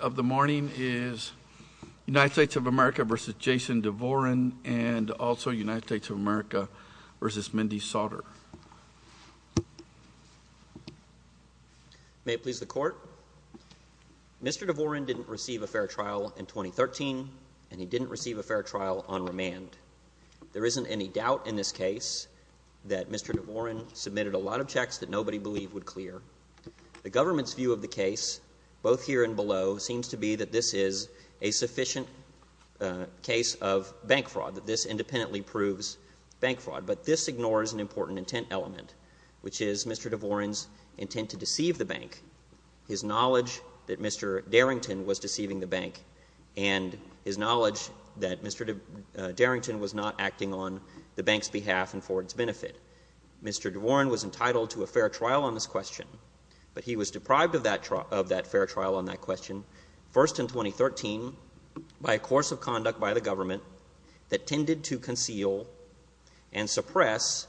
of the morning is United States of America v. Jason Dvorin and also United States of America v. Mindy Sauter. May it please the court. Mr. Dvorin didn't receive a fair trial in 2013 and he didn't receive a fair trial on remand. There isn't any doubt in this case that Mr. Dvorin submitted a lot of checks that nobody believed would clear. The government's view of the case both here and below seems to be that this is a sufficient case of bank fraud, that this independently proves bank fraud. But this ignores an important intent element, which is Mr. Dvorin's intent to deceive the bank, his knowledge that Mr. Darrington was deceiving the bank, and his knowledge that Mr. Darrington was not acting on the bank's behalf and for its benefit. Mr. Dvorin was entitled to a fair trial on this question, but he was deprived of that fair trial on that question, first in 2013, by a course of conduct by the government that tended to conceal and suppress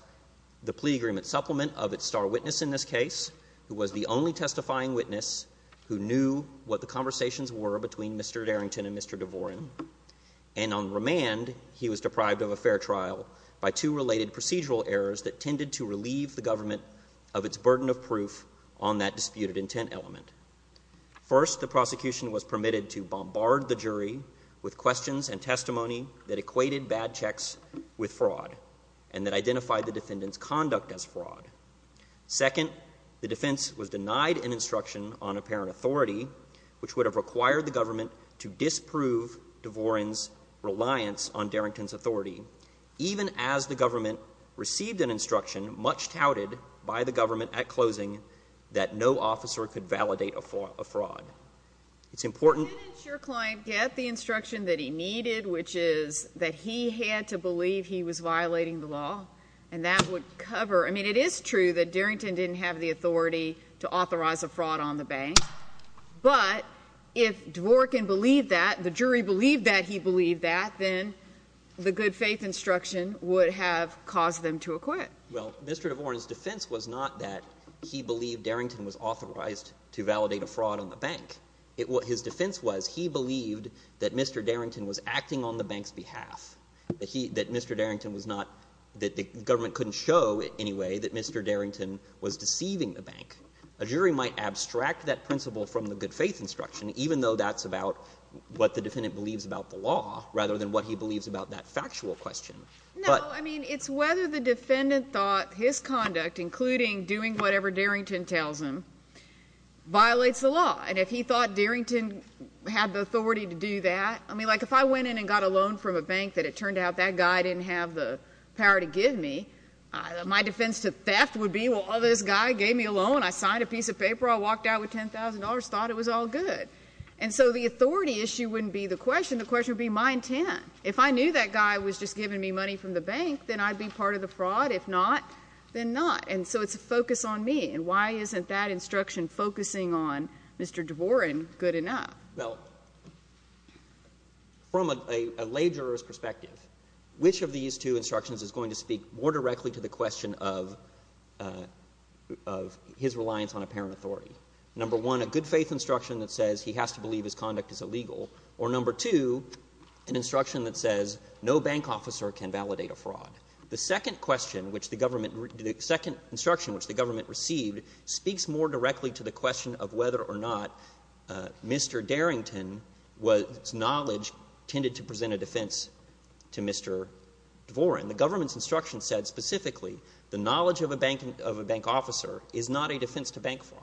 the plea agreement supplement of its star witness in this case, who was the only testifying witness who knew what the conversations were between Mr. Darrington and Mr. Dvorin. And on remand, he was deprived of a fair trial by two related procedural errors that tended to relieve the government of its burden of proof on that disputed intent element. First, the prosecution was permitted to bombard the jury with questions and testimony that equated bad checks with fraud and that identified the defendant's conduct as fraud. Second, the defense was denied an instruction on apparent authority, which would have required the government to disprove Dvorin's reliance on Darrington's authority, even as the government received an instruction, much touted by the government at closing, that no officer could validate a fraud. It's important... Didn't your client get the instruction that he needed, which is that he had to believe he was violating the law? And that would cover... I mean, it is true that Darrington didn't have the authority to authorize a fraud on the bank, but if Dvorin can believe that, the jury believed that he believed that, then the good-faith instruction would have caused them to acquit. Well, Mr. Dvorin's defense was not that he believed Darrington was authorized to validate a fraud on the bank. It was his defense was he believed that Mr. Darrington was acting on the bank's behalf, that he — that Mr. Darrington was not — that the government couldn't show, anyway, that Mr. Darrington was deceiving the bank. A jury might abstract that principle from the good-faith instruction, even though that's about what the defendant believes about the law, rather than what he believes about that factual question. No. I mean, it's whether the defendant thought his conduct, including doing whatever Darrington tells him, violates the law. And if he thought Darrington had the authority to do that — I mean, like, if I went in and got a loan from a bank that it turned out that guy didn't have the power to give me, my defense to theft would be, well, this guy gave me a loan, I signed a piece of paper, I walked out with $10,000, thought it was all good. And so the authority issue wouldn't be the question. The question would be my intent. If I knew that guy was just giving me money from the bank, then I'd be part of the fraud. If not, then not. And so it's a focus on me. And why isn't that instruction focusing on Mr. Dvorin good enough? Well, from a — a lay juror's perspective, which of these two instructions is going to speak more directly to the question of — of his reliance on apparent authority? Number one, a good-faith instruction that says he has to believe his conduct is illegal. Or number two, an instruction that says no bank officer can validate a fraud. The second question which the government — the second instruction which the government received speaks more directly to the question of whether or not Mr. Darrington was — its knowledge tended to present a defense to Mr. Dvorin. The government's instruction said specifically the knowledge of a bank — of a bank officer is not a defense to bank fraud.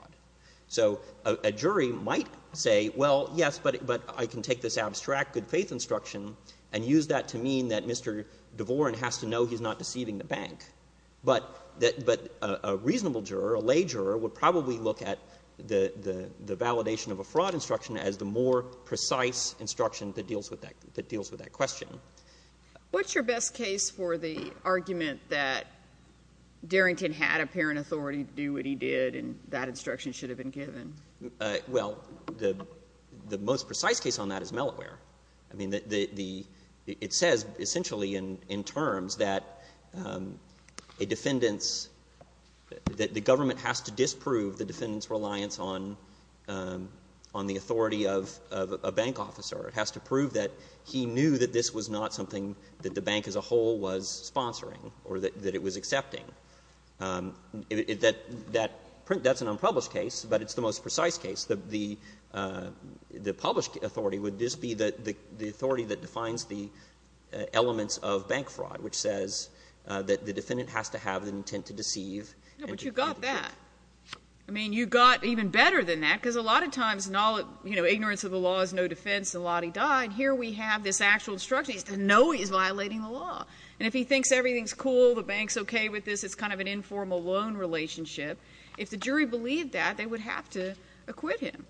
So a jury might say, well, yes, but — but I can take this abstract good-faith instruction and use that to mean that Mr. Dvorin has to know he's not deceiving the bank. But — but a reasonable juror, a lay juror, would probably look at the — the validation of a fraud instruction as the more precise instruction that deals with that — that deals with that question. What's your best case for the argument that Darrington had apparent authority to do what he did and that instruction should have been given? Well, the — the most precise case on that is Melloware. I mean, the — the — it says essentially in — in terms that a defendant's — that the government has to disprove the defendant's reliance on — on the authority of — of a bank officer. It has to prove that he knew that this was not something that the bank as a whole was sponsoring or that — that it was accepting. That — that — that's an unpublished case, but it's the most precise case. The — the — the published authority would just be the — the authority that defines the elements of bank fraud, which says that the defendant has to have the intent to deceive and to — But you got that. I mean, you got even better than that, because a lot of times, you know, ignorance of the law is no defense, the lawdy died. Here we have this actual instruction. He doesn't know he's violating the law. And if he thinks everything's cool, the bank's okay with this, it's kind of an informal loan relationship. If the jury believed that, they would have to acquit him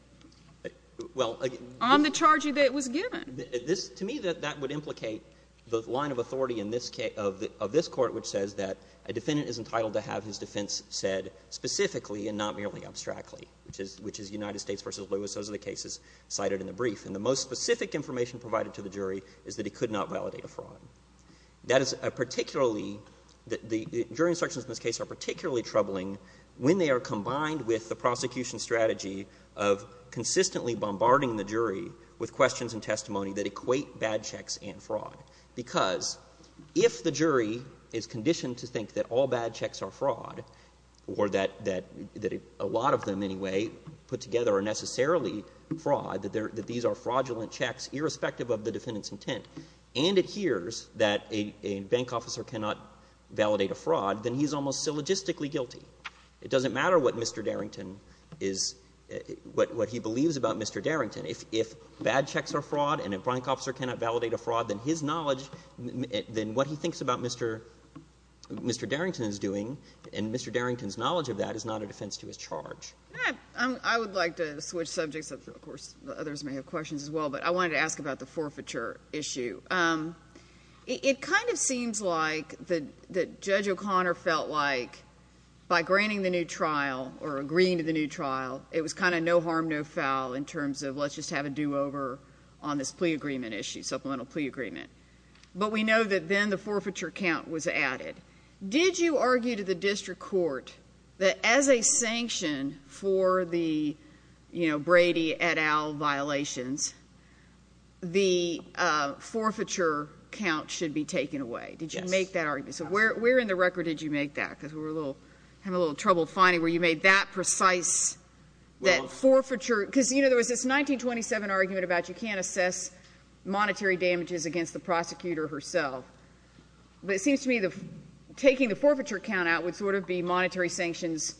on the charge that it was given. This — to me, that — that would implicate the line of authority in this case — of and not merely abstractly, which is — which is United States v. Lewis. Those are the cases cited in the brief. And the most specific information provided to the jury is that he could not validate a fraud. That is a particularly — the jury instructions in this case are particularly troubling when they are combined with the prosecution strategy of consistently bombarding the jury with questions and testimony that equate bad checks and fraud. Because if the jury is conditioned to think that all bad checks are fraud or that a lot of them, anyway, put together are necessarily fraud, that these are fraudulent checks, irrespective of the defendant's intent, and it hears that a bank officer cannot validate a fraud, then he's almost syllogistically guilty. It doesn't matter what Mr. Darrington is — what he believes about Mr. Darrington. If bad checks are fraud and a bank officer cannot validate a fraud, then his knowledge — then what he thinks about Mr. — Mr. Darrington is doing and Mr. Darrington's defense to his charge. I would like to switch subjects, of course, others may have questions as well, but I wanted to ask about the forfeiture issue. It kind of seems like that Judge O'Connor felt like by granting the new trial or agreeing to the new trial, it was kind of no harm, no foul in terms of let's just have a do-over on this plea agreement issue, supplemental plea agreement. But we know that then the forfeiture count was added. Did you argue to the district court that as a sanction for the Brady et al. violations, the forfeiture count should be taken away? Did you make that argument? Yes. So where in the record did you make that? Because I'm having a little trouble finding where you made that precise — that forfeiture — because, you know, there was this 1927 argument about you can't assess monetary damages against the prosecutor herself, but it seems to me that taking the forfeiture count out would sort of be monetary sanctions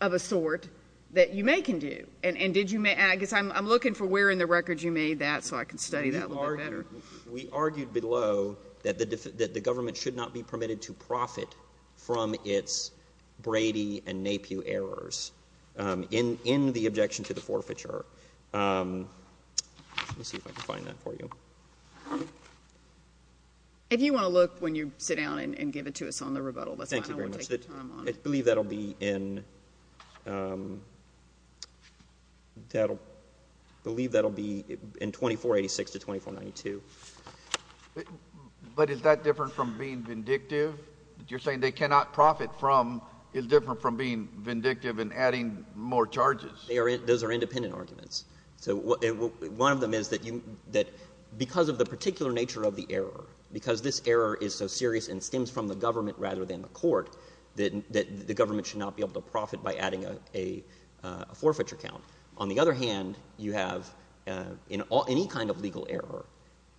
of a sort that you may can do. And did you — I guess I'm looking for where in the record you made that so I can study that a little bit better. We argued below that the government should not be permitted to profit from its Brady and Napier errors in the objection to the forfeiture. Let me see if I can find that for you. If you want to look when you sit down and give it to us on the rebuttal, that's fine. I won't take the time on it. Thank you very much. I believe that'll be in — I believe that'll be in 2486 to 2492. But is that different from being vindictive? You're saying they cannot profit from — is different from being vindictive and adding more charges? Those are independent arguments. So one of them is that because of the particular nature of the error, because this error is so serious and stems from the government rather than the court, that the government should not be able to profit by adding a forfeiture count. On the other hand, you have — in any kind of legal error,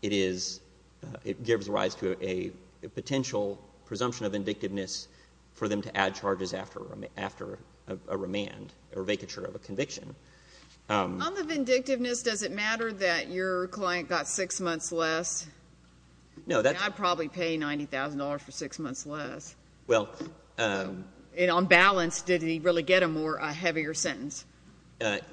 it is — it gives rise to a potential presumption of vindictiveness for them to add charges after a remand or vacature of a conviction. On the vindictiveness, does it matter that your client got six months less? No, that's — And I'd probably pay $90,000 for six months less. Well — And on balance, did he really get a more — a heavier sentence? That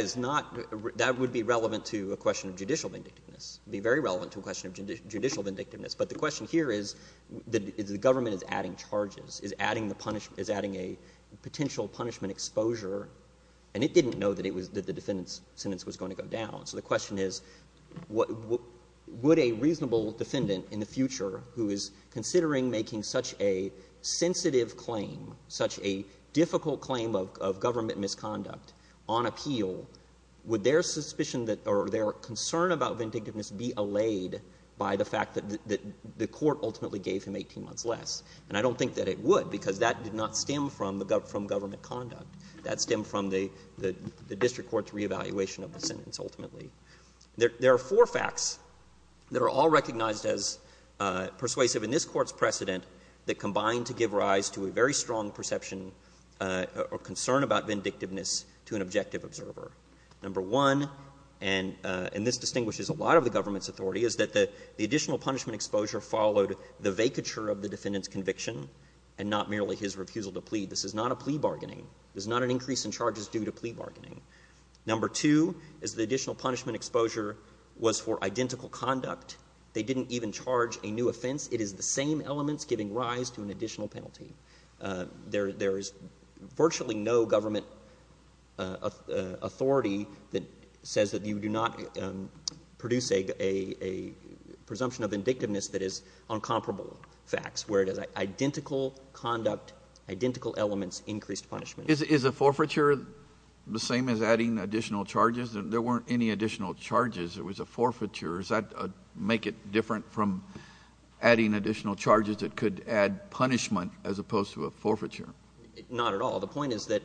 is not — that would be relevant to a question of judicial vindictiveness. It would be very relevant to a question of judicial vindictiveness. But the question here is the government is adding charges, is adding the — is adding a potential punishment exposure, and it didn't know that it was — that the defendant's sentence was going to go down. So the question is, would a reasonable defendant in the future who is considering making such a sensitive claim, such a difficult claim of government misconduct on appeal, would their suspicion that — or their concern about vindictiveness be allayed by the fact that the court ultimately gave him 18 months less? And I don't think that it would, because that did not stem from the — from government conduct. That stemmed from the — the district court's reevaluation of the sentence, ultimately. There are four facts that are all recognized as persuasive in this Court's precedent that combine to give rise to a very strong perception or concern about vindictiveness to an objective observer. Number one, and this distinguishes a lot of the government's authority, is that the and not merely his refusal to plead. This is not a plea bargaining. There's not an increase in charges due to plea bargaining. Number two is the additional punishment exposure was for identical conduct. They didn't even charge a new offense. It is the same elements giving rise to an additional penalty. There is virtually no government authority that says that you do not produce a presumption of vindictiveness that is on comparable facts, where it is identical conduct, identical elements, increased punishment. Is a forfeiture the same as adding additional charges? There weren't any additional charges. It was a forfeiture. Does that make it different from adding additional charges that could add punishment as opposed to a forfeiture? Not at all. The point is that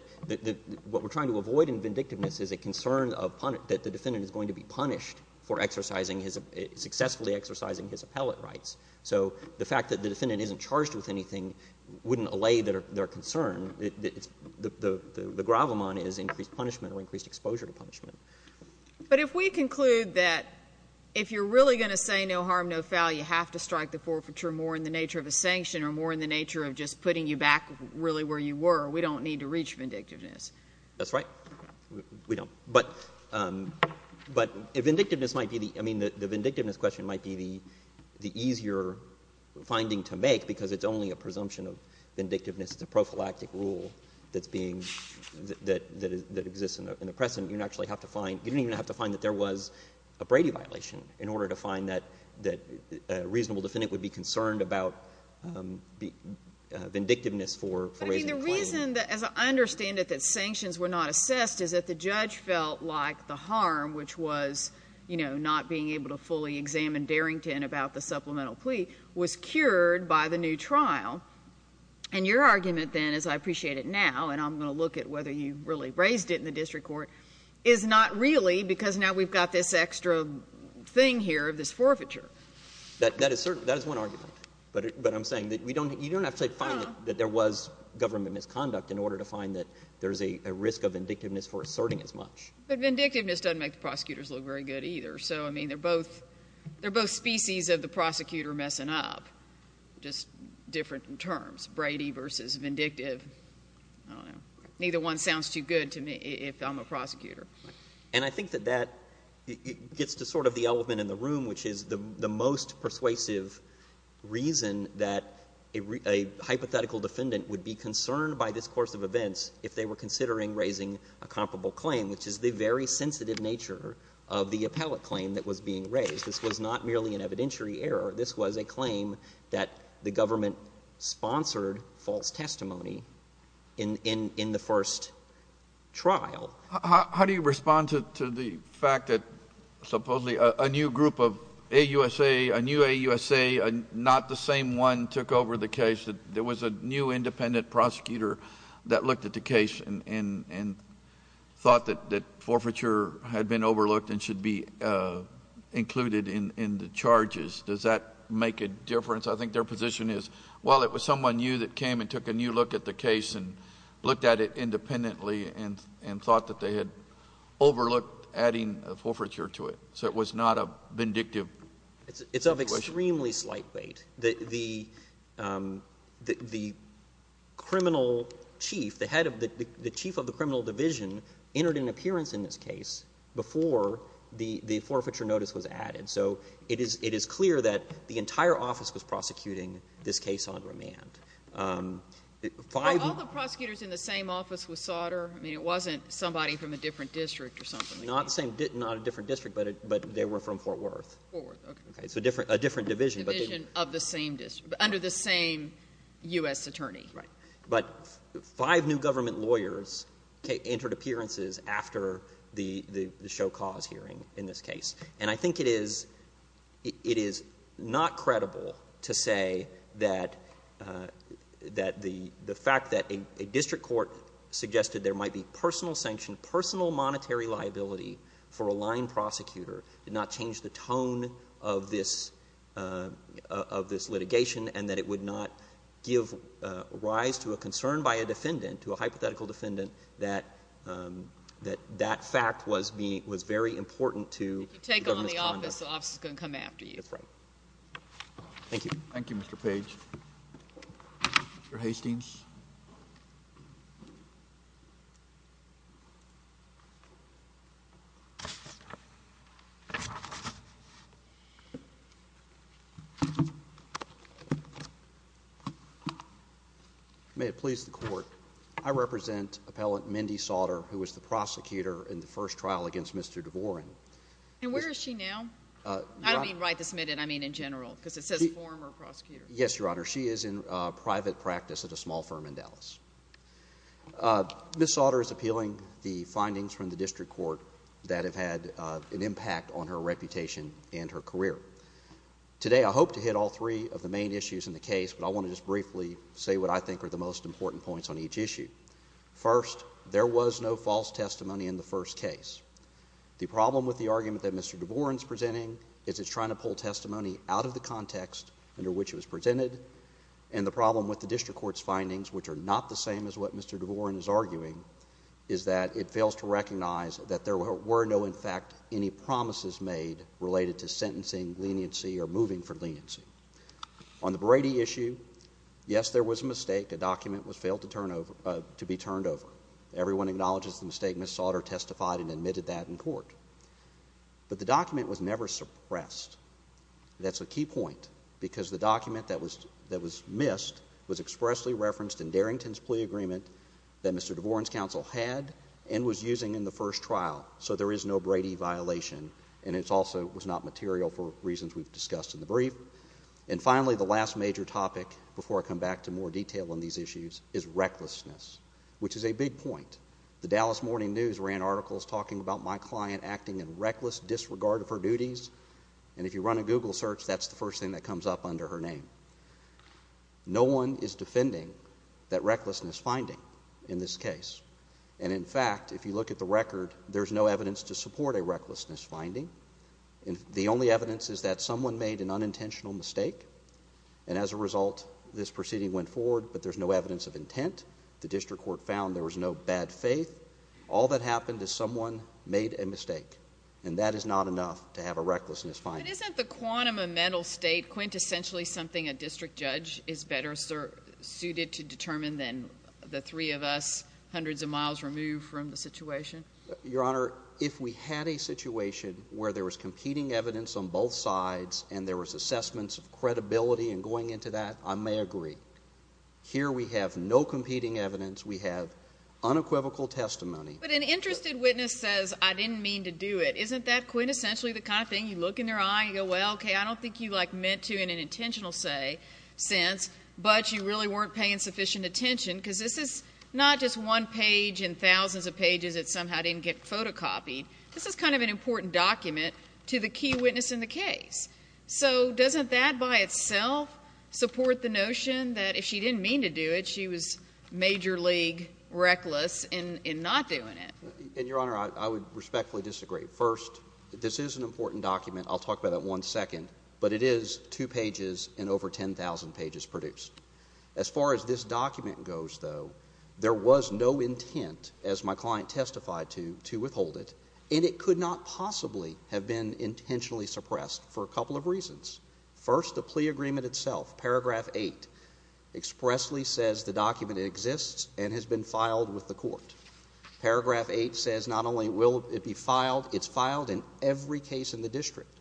what we're trying to avoid in vindictiveness is a concern of — that the defendant is going to be punished for exercising his — successfully exercising his appellate rights. So the fact that the defendant isn't charged with anything wouldn't allay their concern. The gravamon is increased punishment or increased exposure to punishment. But if we conclude that if you're really going to say no harm, no foul, you have to strike the forfeiture more in the nature of a sanction or more in the nature of just putting you back really where you were, we don't need to reach vindictiveness. That's right. We don't. But vindictiveness might be the — I mean, the vindictiveness question might be the easier finding to make because it's only a presumption of vindictiveness. It's a prophylactic rule that's being — that exists in the present. You don't actually have to find — you don't even have to find that there was a Brady violation in order to find that a reasonable defendant would be concerned about vindictiveness for raising a claim. But, I mean, the reason that — as I understand it, that sanctions were not assessed is that the judge felt like the harm, which was, you know, not being able to fully examine Darrington about the supplemental plea, was cured by the new trial. And your argument, then, as I appreciate it now, and I'm going to look at whether you really raised it in the district court, is not really because now we've got this extra thing here of this forfeiture. That is one argument, but I'm saying that we don't — you don't have to find that there was government misconduct in order to find that there's a risk of vindictiveness for asserting as much. But vindictiveness doesn't make the prosecutors look very good, either. So, I mean, they're both — they're both species of the prosecutor messing up, just different in terms, Brady versus vindictive. I don't know. Neither one sounds too good to me if I'm a prosecutor. And I think that that gets to sort of the element in the room, which is the most persuasive reason that a hypothetical defendant would be concerned by this course of events if they were considering raising a comparable claim, which is the very sensitive nature of the appellate claim that was being raised. This was not merely an evidentiary error. This was a claim that the government sponsored false testimony in the first trial. How do you respond to the fact that supposedly a new group of — a USA, a new AUSA, not the same one took over the case? There was a new independent prosecutor that looked at the case and thought that forfeiture had been overlooked and should be included in the charges. Does that make a difference? I think their position is, well, it was someone new that came and took a new look at the case and looked at it independently and thought that they had overlooked adding forfeiture to it. So it was not a vindictive situation. It's of extremely slight weight. The criminal chief, the head of the — the chief of the criminal division entered an appearance in this case before the forfeiture notice was added. So it is clear that the entire office was prosecuting this case on remand. All the prosecutors in the same office was Sauter? I mean, it wasn't somebody from a different district or something? Not the same — not a different district, but they were from Fort Worth. Fort Worth, okay. It's a different division. It's a different division of the same district, under the same U.S. attorney. Right. But five new government lawyers entered appearances after the show cause hearing in this case. And I think it is — it is not credible to say that — that the fact that a district court suggested there might be personal sanction, personal monetary liability for a line prosecutor did not change the tone of this — of this litigation and that it would not give rise to a concern by a defendant, to a hypothetical defendant, that — that that fact was being — was very important to the government's conduct. If you take on the office, the office is going to come after you. That's right. Thank you. Thank you, Mr. Page. Mr. Hastings. May it please the Court, I represent Appellant Mindy Sautter, who was the prosecutor in the first trial against Mr. DeVoren. And where is she now? I don't mean right this minute, I mean in general, because it says former prosecutor. Yes, Your Honor. She is in private practice at a small firm in Dallas. Ms. Sautter is appealing the findings from the district court that have had an impact on her reputation and her career. Today, I hope to hit all three of the main issues in the case, but I want to just briefly say what I think are the most important points on each issue. First, there was no false testimony in the first case. The problem with the argument that Mr. DeVoren is presenting is it's trying to pull testimony out of the context under which it was presented, and the problem with the district court's findings, which are not the same as what Mr. DeVoren is arguing, is that it fails to recognize that there were no, in fact, any promises made related to sentencing leniency or moving for leniency. On the Brady issue, yes, there was a mistake. A document was failed to be turned over. Everyone acknowledges the mistake. Ms. Sautter testified and admitted that in court. But the document was never suppressed. That's a key point, because the document that was missed was expressly referenced in Darrington's plea agreement that Mr. DeVoren's counsel had and was using in the first trial. So there is no Brady violation, and it also was not material for reasons we've discussed in the brief. And finally, the last major topic, before I come back to more detail on these issues, is recklessness, which is a big point. The Dallas Morning News ran articles talking about my client acting in reckless disregard of her duties, and if you run a Google search, that's the first thing that comes up under her name. No one is defending that recklessness finding in this case. And in fact, if you look at the record, there's no evidence to support a recklessness finding. The only evidence is that someone made an unintentional mistake, and as a result, this proceeding went forward, but there's no evidence of intent. The district court found there was no bad faith. All that happened is someone made a mistake, and that is not enough to have a recklessness finding. But isn't the quantum of mental state quintessentially something a district judge is better suited to determine than the three of us hundreds of miles removed from the situation? Your Honor, if we had a situation where there was competing evidence on both sides and there was assessments of credibility in going into that, I may agree. Here, we have no competing evidence. We have unequivocal testimony. But an interested witness says, I didn't mean to do it. Isn't that quintessentially the kind of thing you look in their eye and you go, well, okay, I don't think you, like, meant to in an intentional sense, but you really weren't paying sufficient attention because this is not just one page and thousands of pages that somehow didn't get photocopied. This is kind of an important document to the key witness in the case. So doesn't that by itself support the notion that if she didn't mean to do it, she was major league reckless in not doing it? And, Your Honor, I would respectfully disagree. First, this is an important document. I'll talk about that one second. But it is two pages and over 10,000 pages produced. As far as this document goes, though, there was no intent, as my client testified to, to withhold it, and it could not possibly have been intentionally suppressed for a couple of reasons. First, the plea agreement itself, paragraph eight, expressly says the document exists and has been filed with the court. Paragraph eight says not only will it be filed, it's filed in every case in the district.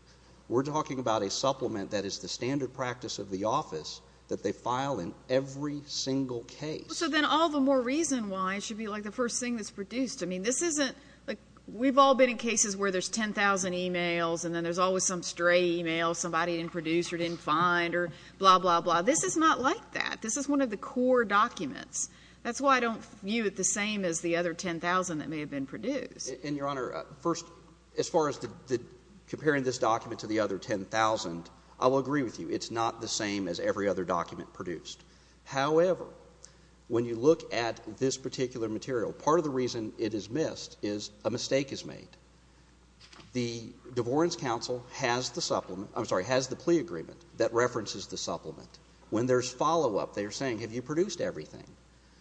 We're talking about a supplement that is the standard practice of the office that they file in every single case. So then all the more reason why it should be, like, the first thing that's produced. I mean, this isn't, like, we've all been in cases where there's 10,000 e-mails and then there's always some stray e-mail somebody didn't produce or didn't find or blah, blah, blah. This is not like that. This is one of the core documents. That's why I don't view it the same as the other 10,000 that may have been produced. And, Your Honor, first, as far as comparing this document to the other 10,000, I will agree with you. It's not the same as every other document produced. However, when you look at this particular material, part of the reason it is missed is a mistake is made. The Devorins Counsel has the supplement, I'm sorry, has the plea agreement that references the supplement. When there's follow-up, they're saying, have you produced everything?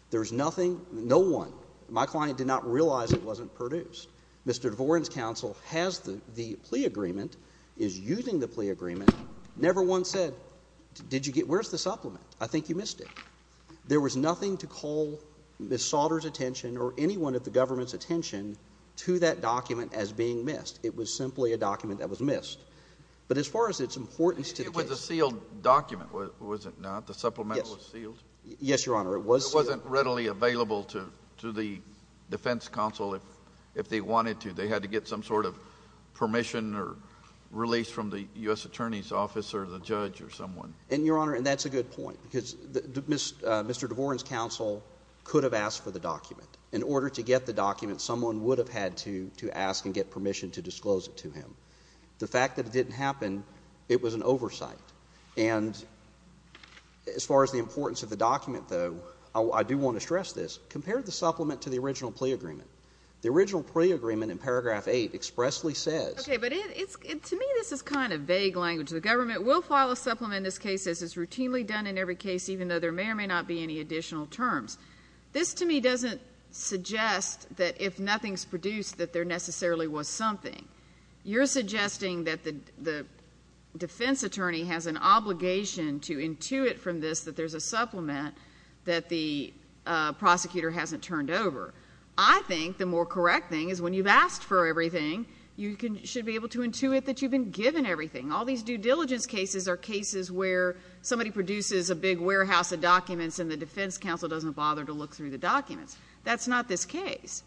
There's nothing, no one, my client did not realize it wasn't produced. Mr. Devorins Counsel has the plea agreement, is using the plea agreement, never once said, did you get, where's the supplement? I think you missed it. There was nothing to call Ms. Sauter's attention or anyone of the government's attention to that document as being missed. It was simply a document that was missed. But as far as its importance to the case. It was a sealed document, was it not? The supplement was sealed? Yes, Your Honor, it was sealed. It wasn't readily available to the defense counsel if they wanted to. They had to get some sort of permission or release from the U.S. Attorney's Office or the judge or someone. And Your Honor, and that's a good point, because Mr. Devorins Counsel could have asked for the document. In order to get the document, someone would have had to ask and get permission to disclose it to him. The fact that it didn't happen, it was an oversight. And as far as the importance of the document, though, I do want to stress this. Compare the supplement to the original plea agreement. The original plea agreement in paragraph eight expressly says. Okay, but to me this is kind of vague language. The government will file a supplement in this case as is routinely done in every case, even though there may or may not be any additional terms. This to me doesn't suggest that if nothing's produced that there necessarily was something. You're suggesting that the defense attorney has an obligation to intuit from this that there's a supplement that the prosecutor hasn't turned over. I think the more correct thing is when you've asked for everything, you should be able to intuit that you've been given everything. All these due diligence cases are cases where somebody produces a big warehouse of documents and the defense counsel doesn't bother to look through the documents. That's not this case.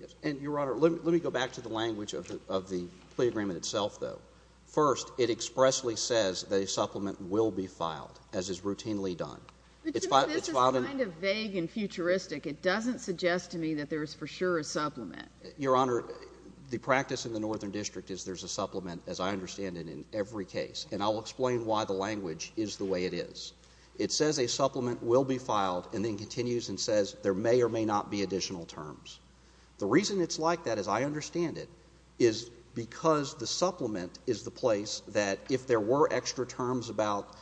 Yes, and Your Honor, let me go back to the language of the plea agreement itself, though. First, it expressly says that a supplement will be filed as is routinely done. But to me this is kind of vague and futuristic. It doesn't suggest to me that there is for sure a supplement. Your Honor, the practice in the Northern District is there's a supplement, as I understand it, in every case. And I'll explain why the language is the way it is. It says a supplement will be filed and then continues and says there may or may not be additional terms. The reason it's like that, as I understand it, is because the supplement is the place that if there were extra terms about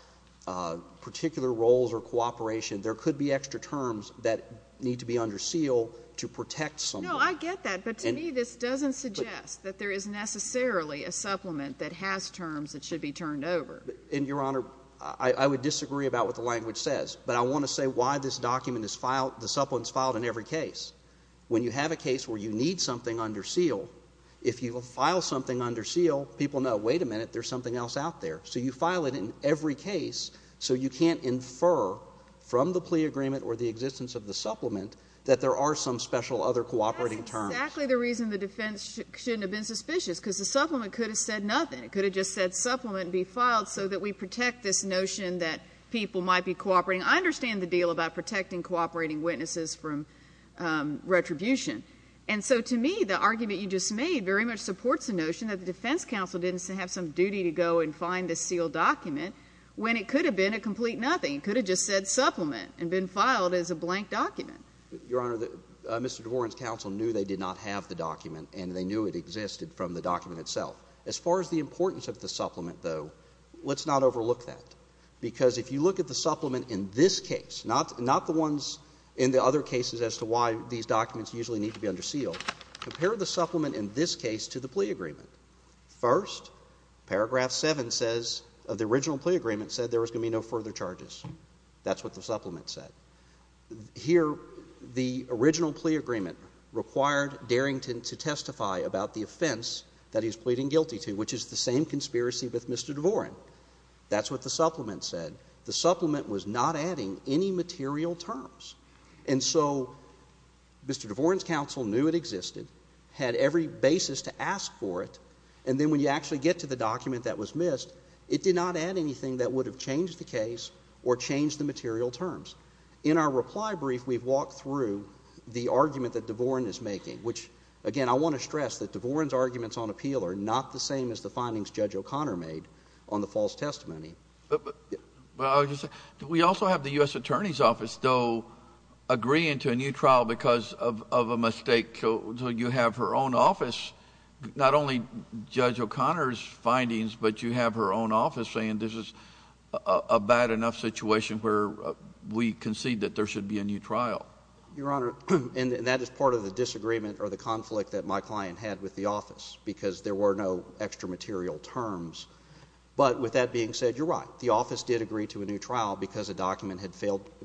particular roles or cooperation, there could be extra terms that need to be under seal to protect someone. No, I get that, but to me this doesn't suggest that there is necessarily a supplement that has terms that should be turned over. And Your Honor, I would disagree about what the language says, but I want to say why this document is filed, the supplement is filed in every case. When you have a case where you need something under seal, if you file something under seal, people know, wait a minute, there's something else out there. So you file it in every case so you can't infer from the plea agreement or the existence of the supplement that there are some special other cooperating terms. That's exactly the reason the defense shouldn't have been suspicious, because the supplement could have said nothing. It could have just said supplement be filed so that we protect this notion that people might be cooperating. I understand the deal about protecting cooperating witnesses from retribution. And so to me, the argument you just made very much supports the notion that the defense counsel didn't have some duty to go and find the sealed document when it could have been a complete nothing. It could have just said supplement and been filed as a blank document. Your Honor, Mr. DeVoren's counsel knew they did not have the document and they knew it existed from the document itself. As far as the importance of the supplement, though, let's not overlook that. Because if you look at the supplement in this case, not the ones in the other cases as to why these documents usually need to be under sealed, compare the supplement in this case to the plea agreement. First, paragraph 7 says, of the original plea agreement, said there was going to be no further charges. That's what the supplement said. Here, the original plea agreement required Darrington to testify about the offense that he's pleading guilty to, which is the same conspiracy with Mr. DeVoren. That's what the supplement said. The supplement was not adding any material terms. And so Mr. DeVoren's counsel knew it existed, had every basis to ask for it, and then when you actually get to the document that was missed, it did not add anything that would have changed the case or changed the material terms. In our reply brief, we've walked through the argument that DeVoren is making, which, again, I want to stress that DeVoren's arguments on appeal are not the same as the findings Judge O'Connor made on the false testimony. But I was just saying, we also have the U.S. Attorney's Office, though, agreeing to a new trial because of a mistake. So you have her own office, not only Judge O'Connor's findings, but you have her own office saying this is a bad enough situation where we concede that there should be a new trial. Your Honor, and that is part of the disagreement or the conflict that my client had with the office, because there were no extra material terms. But with that being said, you're right. The office did agree to a new trial because a document had failed to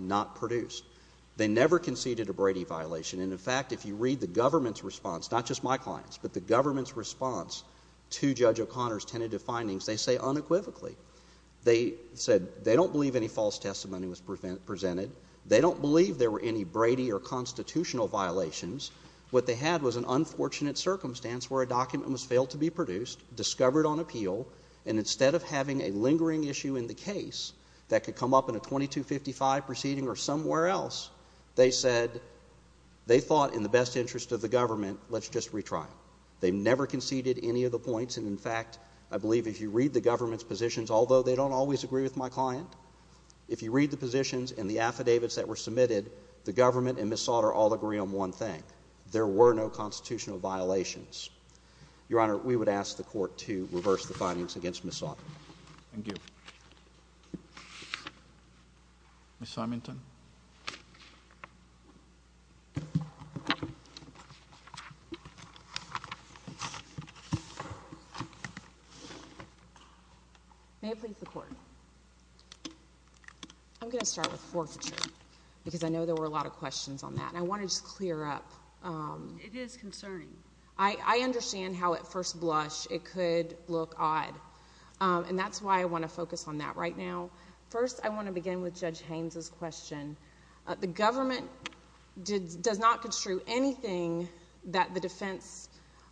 be produced. They never conceded a Brady violation. And, in fact, if you read the government's response, not just my client's, but the government's response to Judge O'Connor's tentative findings, they say unequivocally. They said they don't believe any false testimony was presented. They don't believe there were any Brady or constitutional violations. What they had was an unfortunate circumstance where a document was failed to be produced, discovered on appeal, and instead of having a lingering issue in the case that could come up in a 2255 proceeding or somewhere else, they said they thought in the best interest of the government, let's just retrial. They never conceded any of the points. And, in fact, I believe if you read the government's positions, although they don't always agree with my client, if you read the positions and the affidavits that were submitted, the government and Ms. Sautter all agree on one thing. There were no constitutional violations. Your Honor, we would ask the Court to reverse the findings against Ms. Sautter. Thank you. Ms. Simonton. May it please the Court. I'm going to start with forfeiture because I know there were a lot of questions on that. And I want to just clear up. It is concerning. I understand how at first blush it could look odd. And that's why I want to focus on that right now. First, I want to begin with Judge Haynes' question. The government does not construe anything that the defense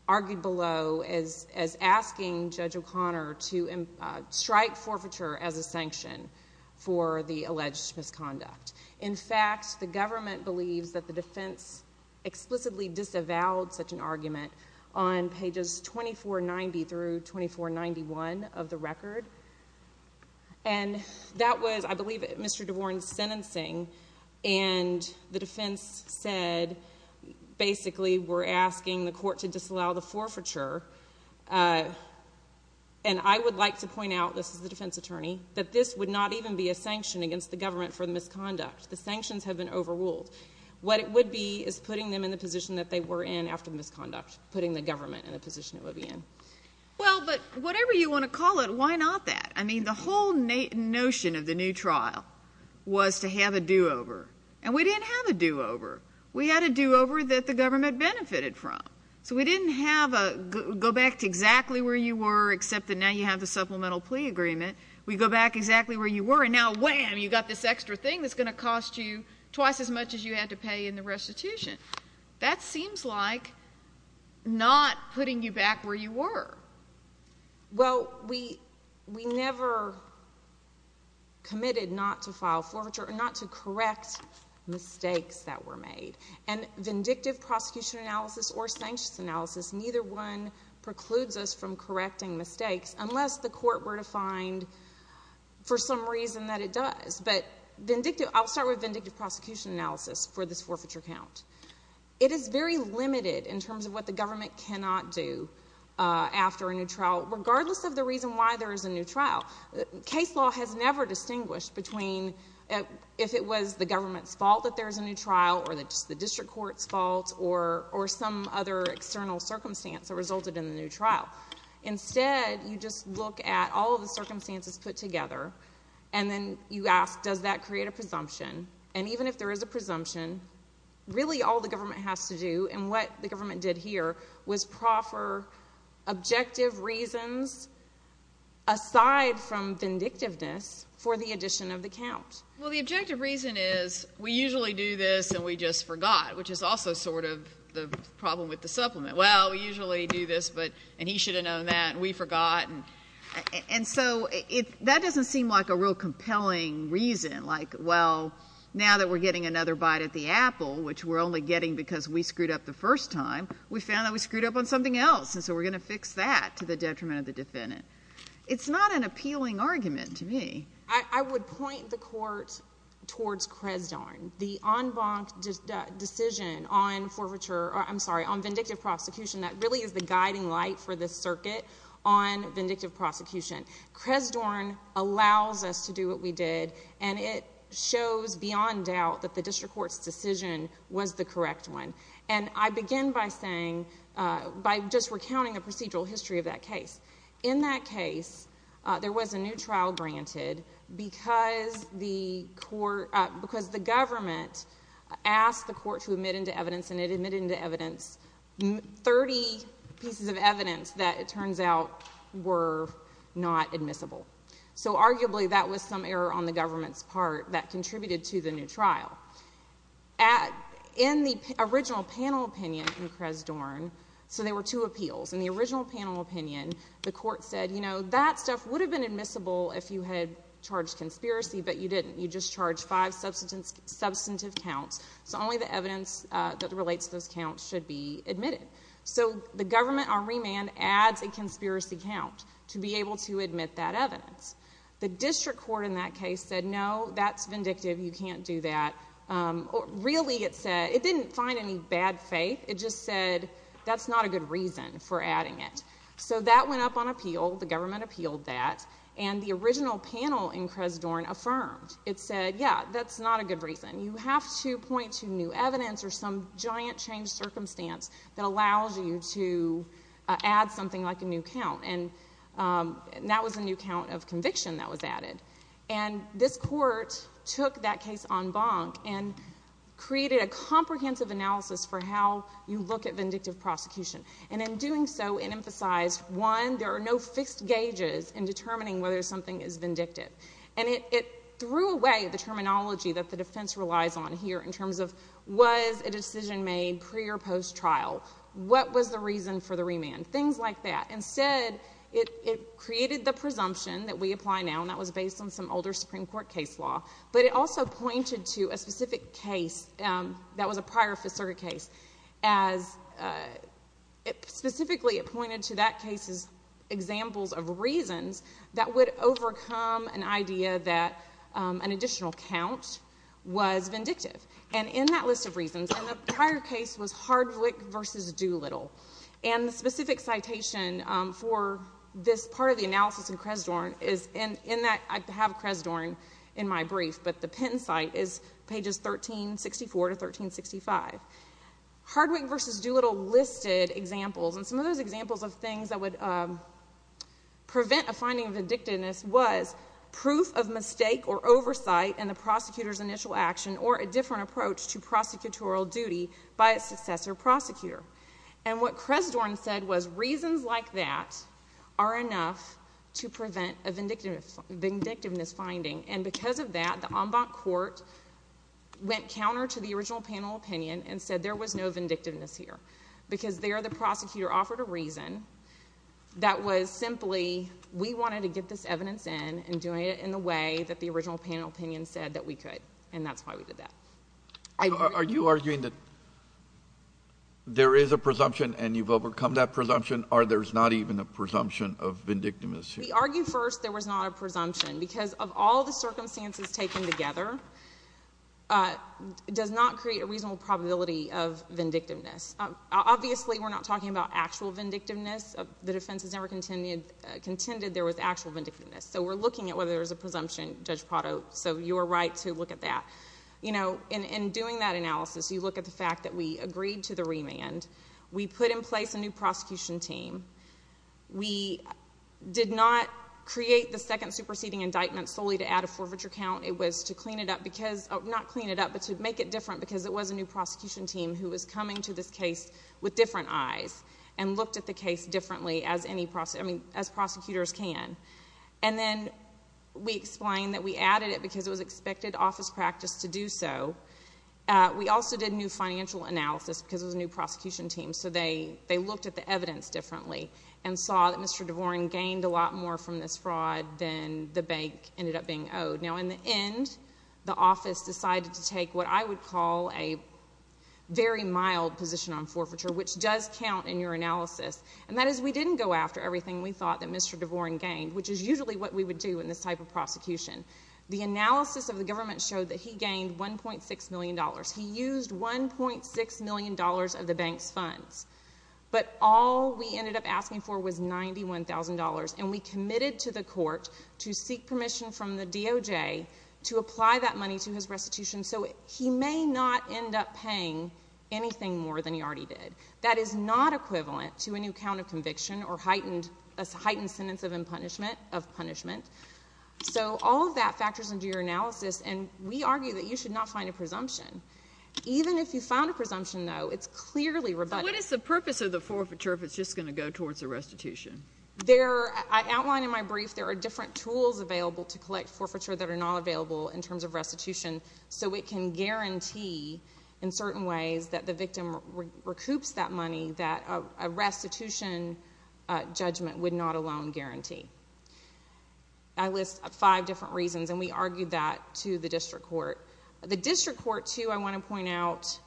argued below as asking Judge O'Connor to strike forfeiture as a sanction for the alleged misconduct. In fact, the government believes that the defense explicitly disavowed such an argument on pages 2490 through 2491 of the record. And that was, I believe, Mr. DeVorn's sentencing. And the defense said basically we're asking the Court to disallow the forfeiture. And I would like to point out, this is the defense attorney, that this would not even be a sanction against the government for the misconduct. The sanctions have been overruled. What it would be is putting them in the position that they were in after the misconduct, putting the government in the position it would be in. Well, but whatever you want to call it, why not that? I mean, the whole notion of the new trial was to have a do-over. And we didn't have a do-over. We had a do-over that the government benefited from. So we didn't have a go back to exactly where you were, except that now you have the supplemental plea agreement. We go back exactly where you were and now, wham, you've got this extra thing that's going to cost you twice as much as you had to pay in the restitution. That seems like not putting you back where you were. Well, we never committed not to file forfeiture or not to correct mistakes that were made. And vindictive prosecution analysis or sanctions analysis, neither one precludes us from correcting mistakes unless the court were to find for some reason that it does. But I'll start with vindictive prosecution analysis for this forfeiture count. It is very limited in terms of what the government cannot do after a new trial, regardless of the reason why there is a new trial. Case law has never distinguished between if it was the government's fault that there was a new trial or just the district court's fault or some other external circumstance that resulted in the new trial. Instead, you just look at all of the circumstances put together and then you ask, does that create a presumption? And even if there is a presumption, really all the government has to do and what the government did here was proffer objective reasons aside from vindictiveness for the addition of the count. Well, the objective reason is we usually do this and we just forgot, which is also sort of the problem with the supplement. Well, we usually do this and he should have known that and we forgot. And so that doesn't seem like a real compelling reason. Like, well, now that we're getting another bite at the apple, which we're only getting because we screwed up the first time, we found that we screwed up on something else and so we're going to fix that to the detriment of the defendant. It's not an appealing argument to me. I would point the court towards Cresdon. The en banc decision on forfeiture, I'm sorry, on vindictive prosecution, that really is the guiding light for this circuit on vindictive prosecution. Cresdon allows us to do what we did and it shows beyond doubt that the district court's decision was the correct one. And I begin by saying, by just recounting the procedural history of that case. In that case, there was a new trial granted because the court, because the government asked the court to admit into evidence and it admitted into evidence 30 pieces of evidence that it turns out were not admissible. So arguably that was some error on the government's part that contributed to the new trial. In the original panel opinion in Cresdon, so there were two appeals. In the original panel opinion, the court said, you know, that stuff would have been admissible if you had charged conspiracy, but you didn't. You just charged five substantive counts. So only the evidence that relates to those counts should be admitted. So the government on remand adds a conspiracy count to be able to admit that evidence. The district court in that case said, no, that's vindictive. You can't do that. Really it said, it didn't find any bad faith. It just said, that's not a good reason for adding it. So that went up on appeal. The government appealed that. And the original panel in Cresdon affirmed. It said, yeah, that's not a good reason. You have to point to new evidence or some giant changed circumstance that allows you to add something like a new count. And that was a new count of conviction that was added. And this court took that case en banc and created a comprehensive analysis for how you look at vindictive prosecution. And in doing so, it emphasized, one, there are no fixed gauges in determining whether something is vindictive. And it threw away the terminology that the defense relies on here in terms of was a decision made pre- or post-trial? What was the reason for the remand? Things like that. Instead, it created the presumption that we apply now, and that was based on some older Supreme Court case law. But it also pointed to a specific case that was a prior Fifth Circuit case. Specifically, it pointed to that case's examples of reasons that would overcome an idea that an additional count was vindictive. And in that list of reasons, and the prior case was Hardwick v. Doolittle, and the specific citation for this part of the analysis in Cresdorn is in that I have Cresdorn in my brief, but the Penn site is pages 1364 to 1365. Hardwick v. Doolittle listed examples. And some of those examples of things that would prevent a finding of vindictiveness was proof of mistake or oversight in the prosecutor's initial action or a different approach to prosecutorial duty by a successor prosecutor. And what Cresdorn said was reasons like that are enough to prevent a vindictive finding, and because of that, the en banc court went counter to the original panel opinion and said there was no vindictiveness here because there the prosecutor offered a reason that was simply we wanted to get this evidence in and doing it in the way that the original panel opinion said that we could, and that's why we did that. Are you arguing that there is a presumption and you've overcome that presumption, or there's not even a presumption of vindictiveness here? We argue first there was not a presumption because of all the circumstances taken together, it does not create a reasonable probability of vindictiveness. Obviously, we're not talking about actual vindictiveness. The defense has never contended there was actual vindictiveness, so we're looking at whether there's a presumption, Judge Prado, so you are right to look at that. In doing that analysis, you look at the fact that we agreed to the remand. We put in place a new prosecution team. We did not create the second superseding indictment solely to add a forfeiture count. It was to clean it up because, not clean it up, but to make it different because it was a new prosecution team who was coming to this case with different eyes and looked at the case differently as prosecutors can. And then we explained that we added it because it was expected office practice to do so. We also did new financial analysis because it was a new prosecution team, so they looked at the evidence differently and saw that Mr. DeVorn gained a lot more from this fraud than the bank ended up being owed. Now, in the end, the office decided to take what I would call a very mild position on forfeiture, which does count in your analysis, and that is we didn't go after everything we thought that Mr. DeVorn gained, which is usually what we would do in this type of prosecution. The analysis of the government showed that he gained $1.6 million. He used $1.6 million of the bank's funds. But all we ended up asking for was $91,000, and we committed to the court to seek permission from the DOJ to apply that money to his restitution so he may not end up paying anything more than he already did. That is not equivalent to a new count of conviction or a heightened sentence of punishment. So all of that factors into your analysis, and we argue that you should not find a presumption. Even if you found a presumption, though, it's clearly rebutted. What is the purpose of the forfeiture if it's just going to go towards a restitution? I outlined in my brief there are different tools available to collect forfeiture that are not available in terms of restitution, so it can guarantee in certain ways that the victim recoups that money that a restitution judgment would not alone guarantee. I list five different reasons, and we argued that to the district court. The district court, too, I want to point out,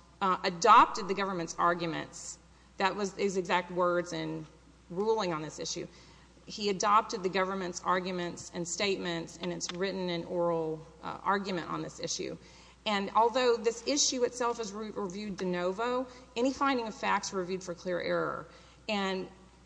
adopted the government's arguments. That was his exact words in ruling on this issue. He adopted the government's arguments and statements, and it's written in oral argument on this issue. Although this issue itself is reviewed de novo, any finding of facts reviewed for clear error.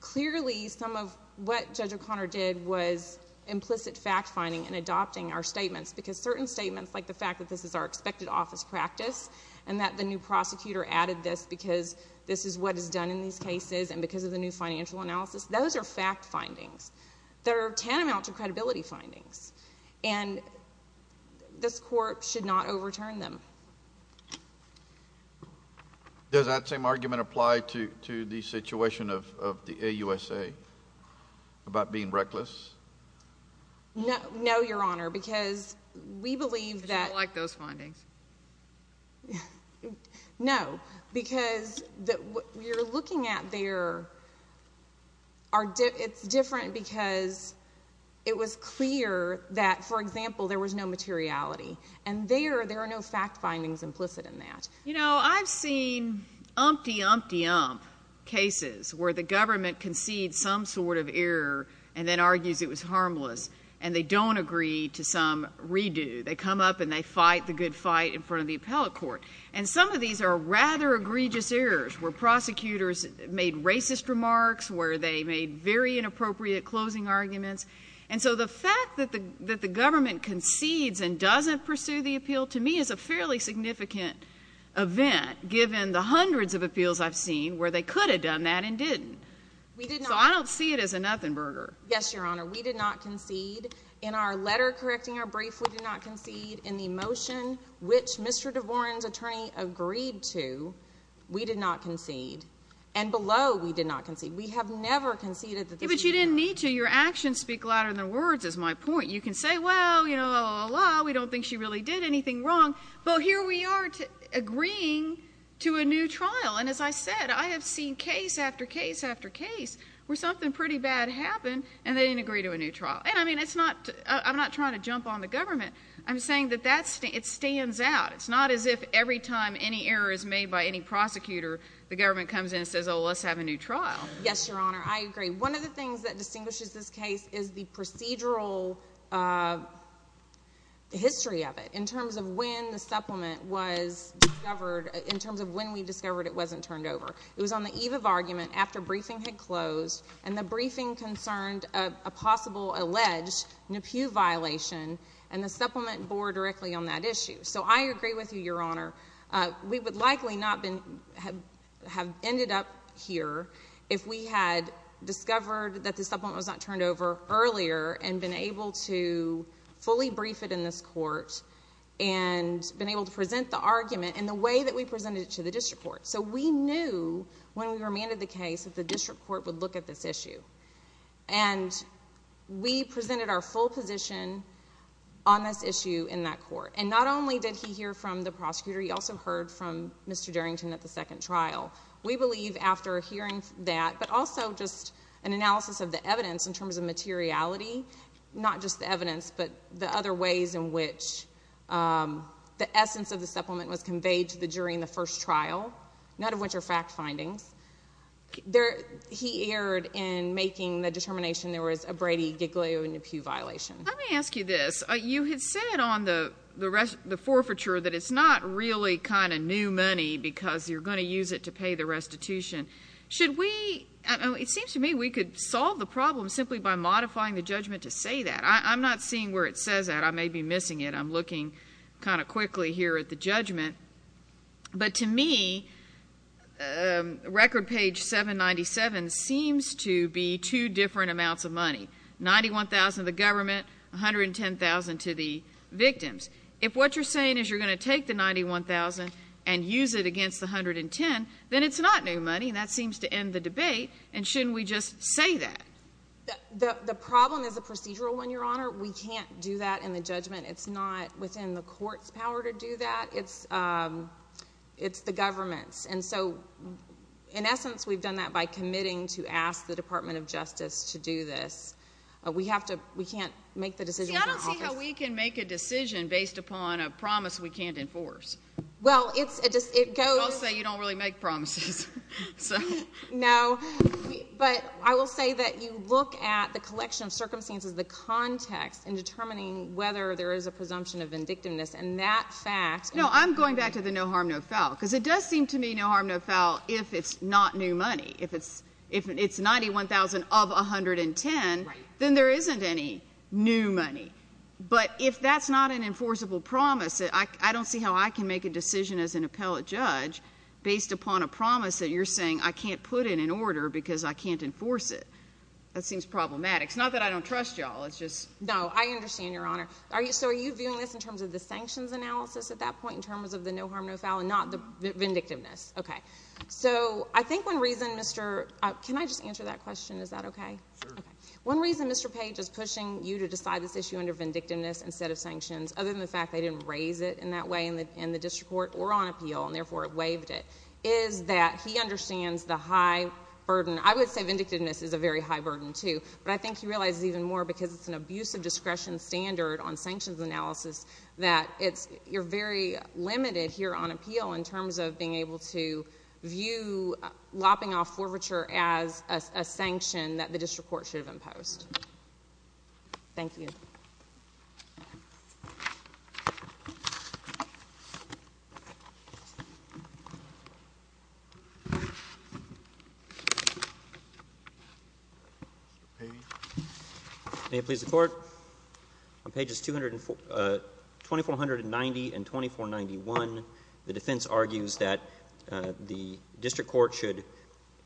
Clearly, some of what Judge O'Connor did was implicit fact-finding and adopting our statements because certain statements, like the fact that this is our expected office practice and that the new prosecutor added this because this is what is done in these cases and because of the new financial analysis, those are fact findings. They're tantamount to credibility findings. And this court should not overturn them. Does that same argument apply to the situation of the AUSA about being reckless? No, Your Honor, because we believe that. No, because what you're looking at there, it's different because it was clear that, for example, there was no materiality, and there, there are no fact findings implicit in that. You know, I've seen umpty, umpty, ump cases where the government concedes some sort of error and then argues it was harmless, and they don't agree to some redo. They come up and they fight the good fight in front of the appellate court. And some of these are rather egregious errors where prosecutors made racist remarks, where they made very inappropriate closing arguments. And so the fact that the government concedes and doesn't pursue the appeal, to me, is a fairly significant event, given the hundreds of appeals I've seen where they could have done that and didn't. So I don't see it as a nothing burger. Yes, Your Honor. We did not concede. In our letter correcting our brief, we did not concede. In the motion which Mr. DeVoren's attorney agreed to, we did not concede. And below, we did not concede. We have never conceded that this was wrong. But you didn't need to. Your actions speak louder than words, is my point. You can say, well, you know, la, la, la, la, we don't think she really did anything wrong. But here we are agreeing to a new trial. And as I said, I have seen case after case after case where something pretty bad happened and they didn't agree to a new trial. And, I mean, I'm not trying to jump on the government. I'm saying that it stands out. It's not as if every time any error is made by any prosecutor, the government comes in and says, oh, let's have a new trial. Yes, Your Honor. I agree. One of the things that distinguishes this case is the procedural history of it in terms of when the supplement was discovered, in terms of when we discovered it wasn't turned over. It was on the eve of argument, after briefing had closed, and the briefing concerned a possible alleged Nepew violation, and the supplement bore directly on that issue. So I agree with you, Your Honor. We would likely not have ended up here if we had discovered that the supplement was not turned over earlier and been able to fully brief it in this court and been able to present the argument in the way that we presented it to the district court. So we knew when we remanded the case that the district court would look at this issue. And we presented our full position on this issue in that court. And not only did he hear from the prosecutor, he also heard from Mr. Darrington at the second trial. We believe after hearing that, but also just an analysis of the evidence in terms of materiality, not just the evidence, but the other ways in which the essence of the supplement was conveyed to the jury in the first trial, none of which are fact findings, he erred in making the determination there was a Brady-Giglio-Nepew violation. Let me ask you this. You had said on the forfeiture that it's not really kind of new money because you're going to use it to pay the restitution. It seems to me we could solve the problem simply by modifying the judgment to say that. I'm not seeing where it says that. I may be missing it. I'm looking kind of quickly here at the judgment. But to me, record page 797 seems to be two different amounts of money, $91,000 to the government, $110,000 to the victims. If what you're saying is you're going to take the $91,000 and use it against the $110,000, then it's not new money, and that seems to end the debate. And shouldn't we just say that? The problem is a procedural one, Your Honor. We can't do that in the judgment. It's not within the court's power to do that. It's the government's. And so, in essence, we've done that by committing to ask the Department of Justice to do this. We can't make the decision in the office. See, I don't see how we can make a decision based upon a promise we can't enforce. Well, it goes. I'll say you don't really make promises. No, but I will say that you look at the collection of circumstances, the context in determining whether there is a presumption of vindictiveness, and that fact. No, I'm going back to the no harm, no foul, because it does seem to me no harm, no foul if it's not new money. If it's $91,000 of $110,000, then there isn't any new money. But if that's not an enforceable promise, I don't see how I can make a decision as an appellate judge based upon a promise that you're saying I can't put in an order because I can't enforce it. That seems problematic. It's not that I don't trust you all. No, I understand, Your Honor. So are you viewing this in terms of the sanctions analysis at that point, in terms of the no harm, no foul, and not the vindictiveness? Okay. So I think one reason, Mr. Can I just answer that question? Is that okay? Sure. Okay. One reason Mr. Page is pushing you to decide this issue under vindictiveness instead of sanctions, other than the fact they didn't raise it in that way in the district court or on appeal, and therefore it waived it, is that he understands the high burden. I would say vindictiveness is a very high burden, too, but I think he realizes even more because it's an abusive discretion standard on sanctions analysis that you're very limited here on appeal in terms of being able to view lopping off forfeiture as a sanction that the district court should have imposed. Thank you. Mr. Page. May it please the Court, on pages 2490 and 2491, the defense argues that the district court should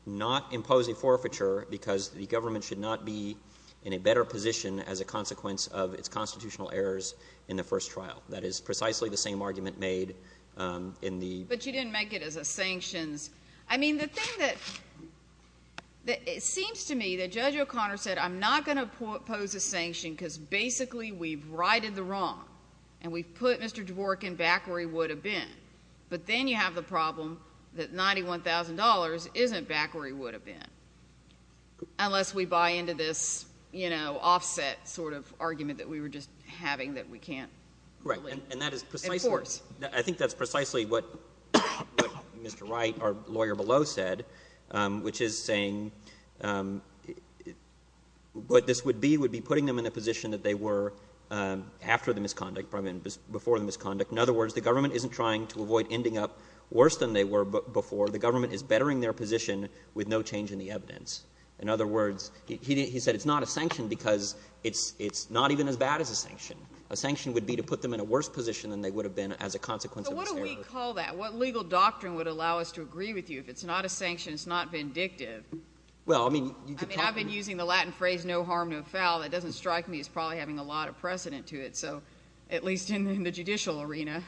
not impose a forfeiture because the government should not be in a better position as a consequence of its constitutional errors in the first trial. That is precisely the same argument made in the ---- But you didn't make it as a sanctions. I mean, the thing that ---- it seems to me that Judge O'Connor said I'm not going to pose a sanction because basically we've righted the wrong and we've put Mr. Wright in a position where he's working back where he would have been. But then you have the problem that $91,000 isn't back where he would have been, unless we buy into this, you know, offset sort of argument that we were just having that we can't ---- Right. And that is precisely ---- Of course. I think that's precisely what Mr. Wright, our lawyer below, said, which is saying what this would be would be putting them in a position that they were after the government's conduct. In other words, the government isn't trying to avoid ending up worse than they were before. The government is bettering their position with no change in the evidence. In other words, he said it's not a sanction because it's not even as bad as a sanction. A sanction would be to put them in a worse position than they would have been as a consequence of its errors. But what do we call that? What legal doctrine would allow us to agree with you if it's not a sanction, it's not vindictive? Well, I mean, you can talk ---- I mean, I've been using the Latin phrase no harm, no foul. That doesn't strike me as probably having a lot of precedent to it. So at least in the judicial arena.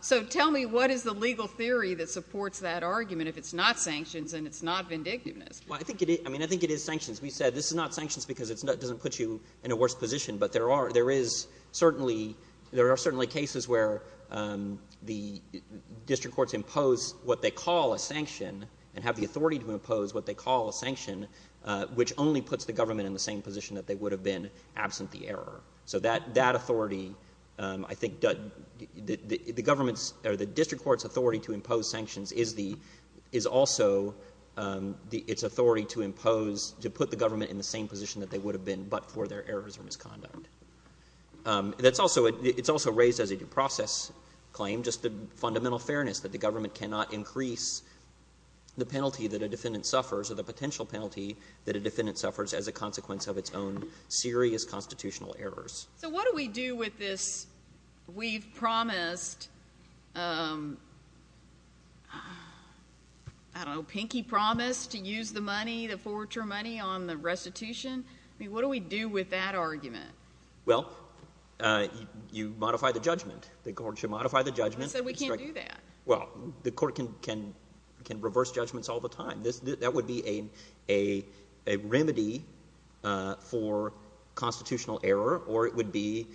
So tell me what is the legal theory that supports that argument if it's not sanctions and it's not vindictiveness? Well, I think it is sanctions. We said this is not sanctions because it doesn't put you in a worse position. But there is certainly cases where the district courts impose what they call a sanction and have the authority to impose what they call a sanction, which only puts the government in the same position that they would have been absent the error. So that authority, I think, the government's or the district court's authority to impose sanctions is also its authority to impose, to put the government in the same position that they would have been but for their errors or misconduct. It's also raised as a due process claim, just the fundamental fairness that the government cannot increase the penalty that a defendant suffers or the potential penalty that a defendant suffers as a consequence of its own serious constitutional errors. So what do we do with this we've promised, I don't know, pinky promise to use the money, the forward term money on the restitution? I mean, what do we do with that argument? Well, you modify the judgment. The court should modify the judgment. I said we can't do that. Well, the court can reverse judgments all the time. That would be a remedy for constitutional error, or it would be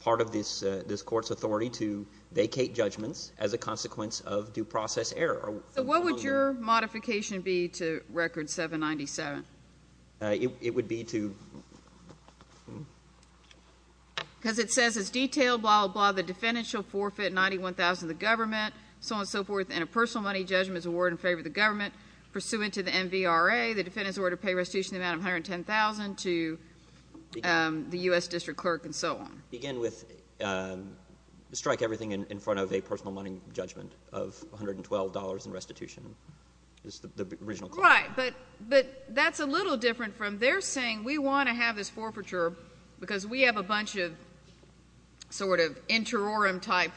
part of this court's authority to vacate judgments as a consequence of due process error. So what would your modification be to Record 797? It would be to — Because it says it's detailed, blah, blah, blah, the defendant shall forfeit $91,000 to the government, so on and so forth, and a personal money judgment is awarded in favor of the government pursuant to the MVRA. The defendant is ordered to pay restitution in the amount of $110,000 to the U.S. district clerk and so on. Again, with strike everything in front of a personal money judgment of $112 in restitution is the original clause. Right. But that's a little different from they're saying we want to have this forfeiture because we have a bunch of sort of interorum-type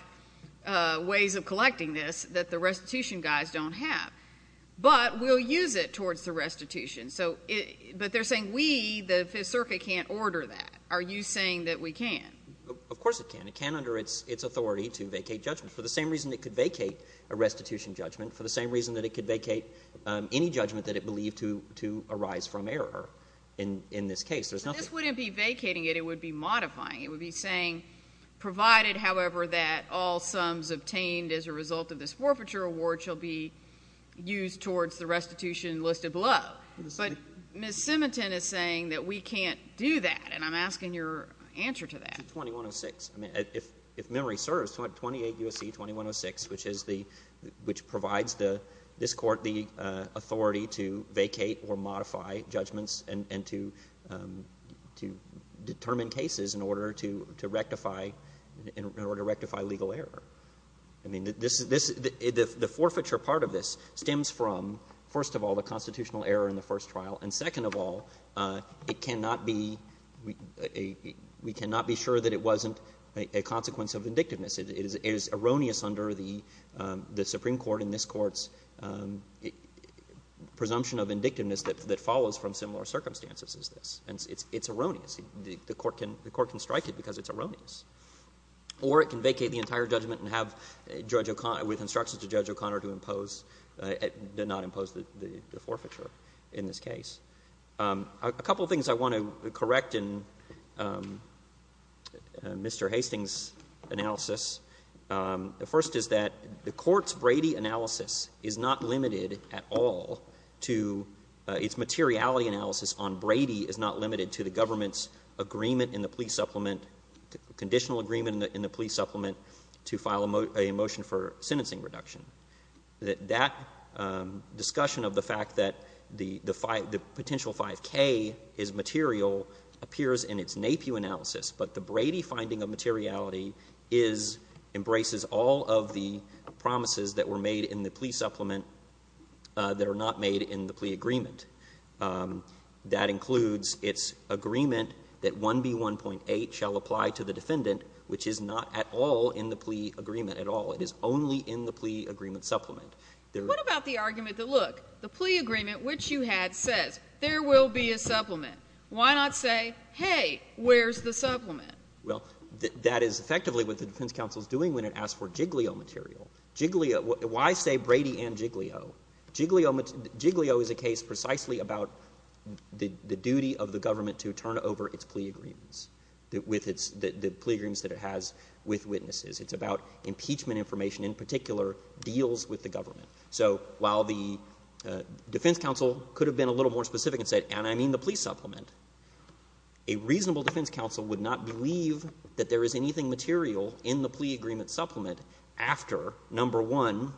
ways of collecting this that the But we'll use it towards the restitution. So it — but they're saying we, the Fifth Circuit, can't order that. Are you saying that we can? Of course it can. It can under its authority to vacate judgments, for the same reason it could vacate a restitution judgment, for the same reason that it could vacate any judgment that it believed to arise from error in this case. There's nothing— But this wouldn't be vacating it. It would be modifying. It would be saying, provided, however, that all sums obtained as a result of this use towards the restitution listed below. But Ms. Simiton is saying that we can't do that, and I'm asking your answer to that. 2106. I mean, if memory serves, 28 U.S.C. 2106, which is the — which provides this court the authority to vacate or modify judgments and to determine cases in order to rectify — in order to rectify legal error. I mean, this — the forfeiture part of this stems from, first of all, the constitutional error in the first trial, and second of all, it cannot be — we cannot be sure that it wasn't a consequence of indictiveness. It is erroneous under the Supreme Court and this Court's presumption of indictiveness that follows from similar circumstances as this. And it's erroneous. The Court can strike it because it's erroneous. Or it can vacate the entire judgment and have Judge O'Connor — with instructions to Judge O'Connor to impose — not impose the forfeiture in this case. A couple of things I want to correct in Mr. Hastings' analysis. The first is that the Court's Brady analysis is not limited at all to — its materiality analysis on Brady is not limited to the government's agreement in the plea supplement — conditional agreement in the plea supplement to file a motion for sentencing reduction. That that discussion of the fact that the potential 5K is material appears in its NAPIW analysis, but the Brady finding of materiality is — embraces all of the promises that were made in the plea supplement that are not made in the plea agreement. That includes its agreement that 1B1.8 shall apply to the defendant, which is not at all in the plea agreement, at all. It is only in the plea agreement supplement. There — What about the argument that, look, the plea agreement which you had says, there will be a supplement? Why not say, hey, where's the supplement? Well, that is effectively what the defense counsel is doing when it asks for Jiglio material. Jiglio — why say Brady and Jiglio? Jiglio is a case precisely about the duty of the government to turn over its plea agreements with its — the plea agreements that it has with witnesses. It's about impeachment information, in particular, deals with the government. So while the defense counsel could have been a little more specific and said, and I mean the plea supplement, a reasonable defense counsel would not believe that there is anything material in the plea agreement supplement after, number one,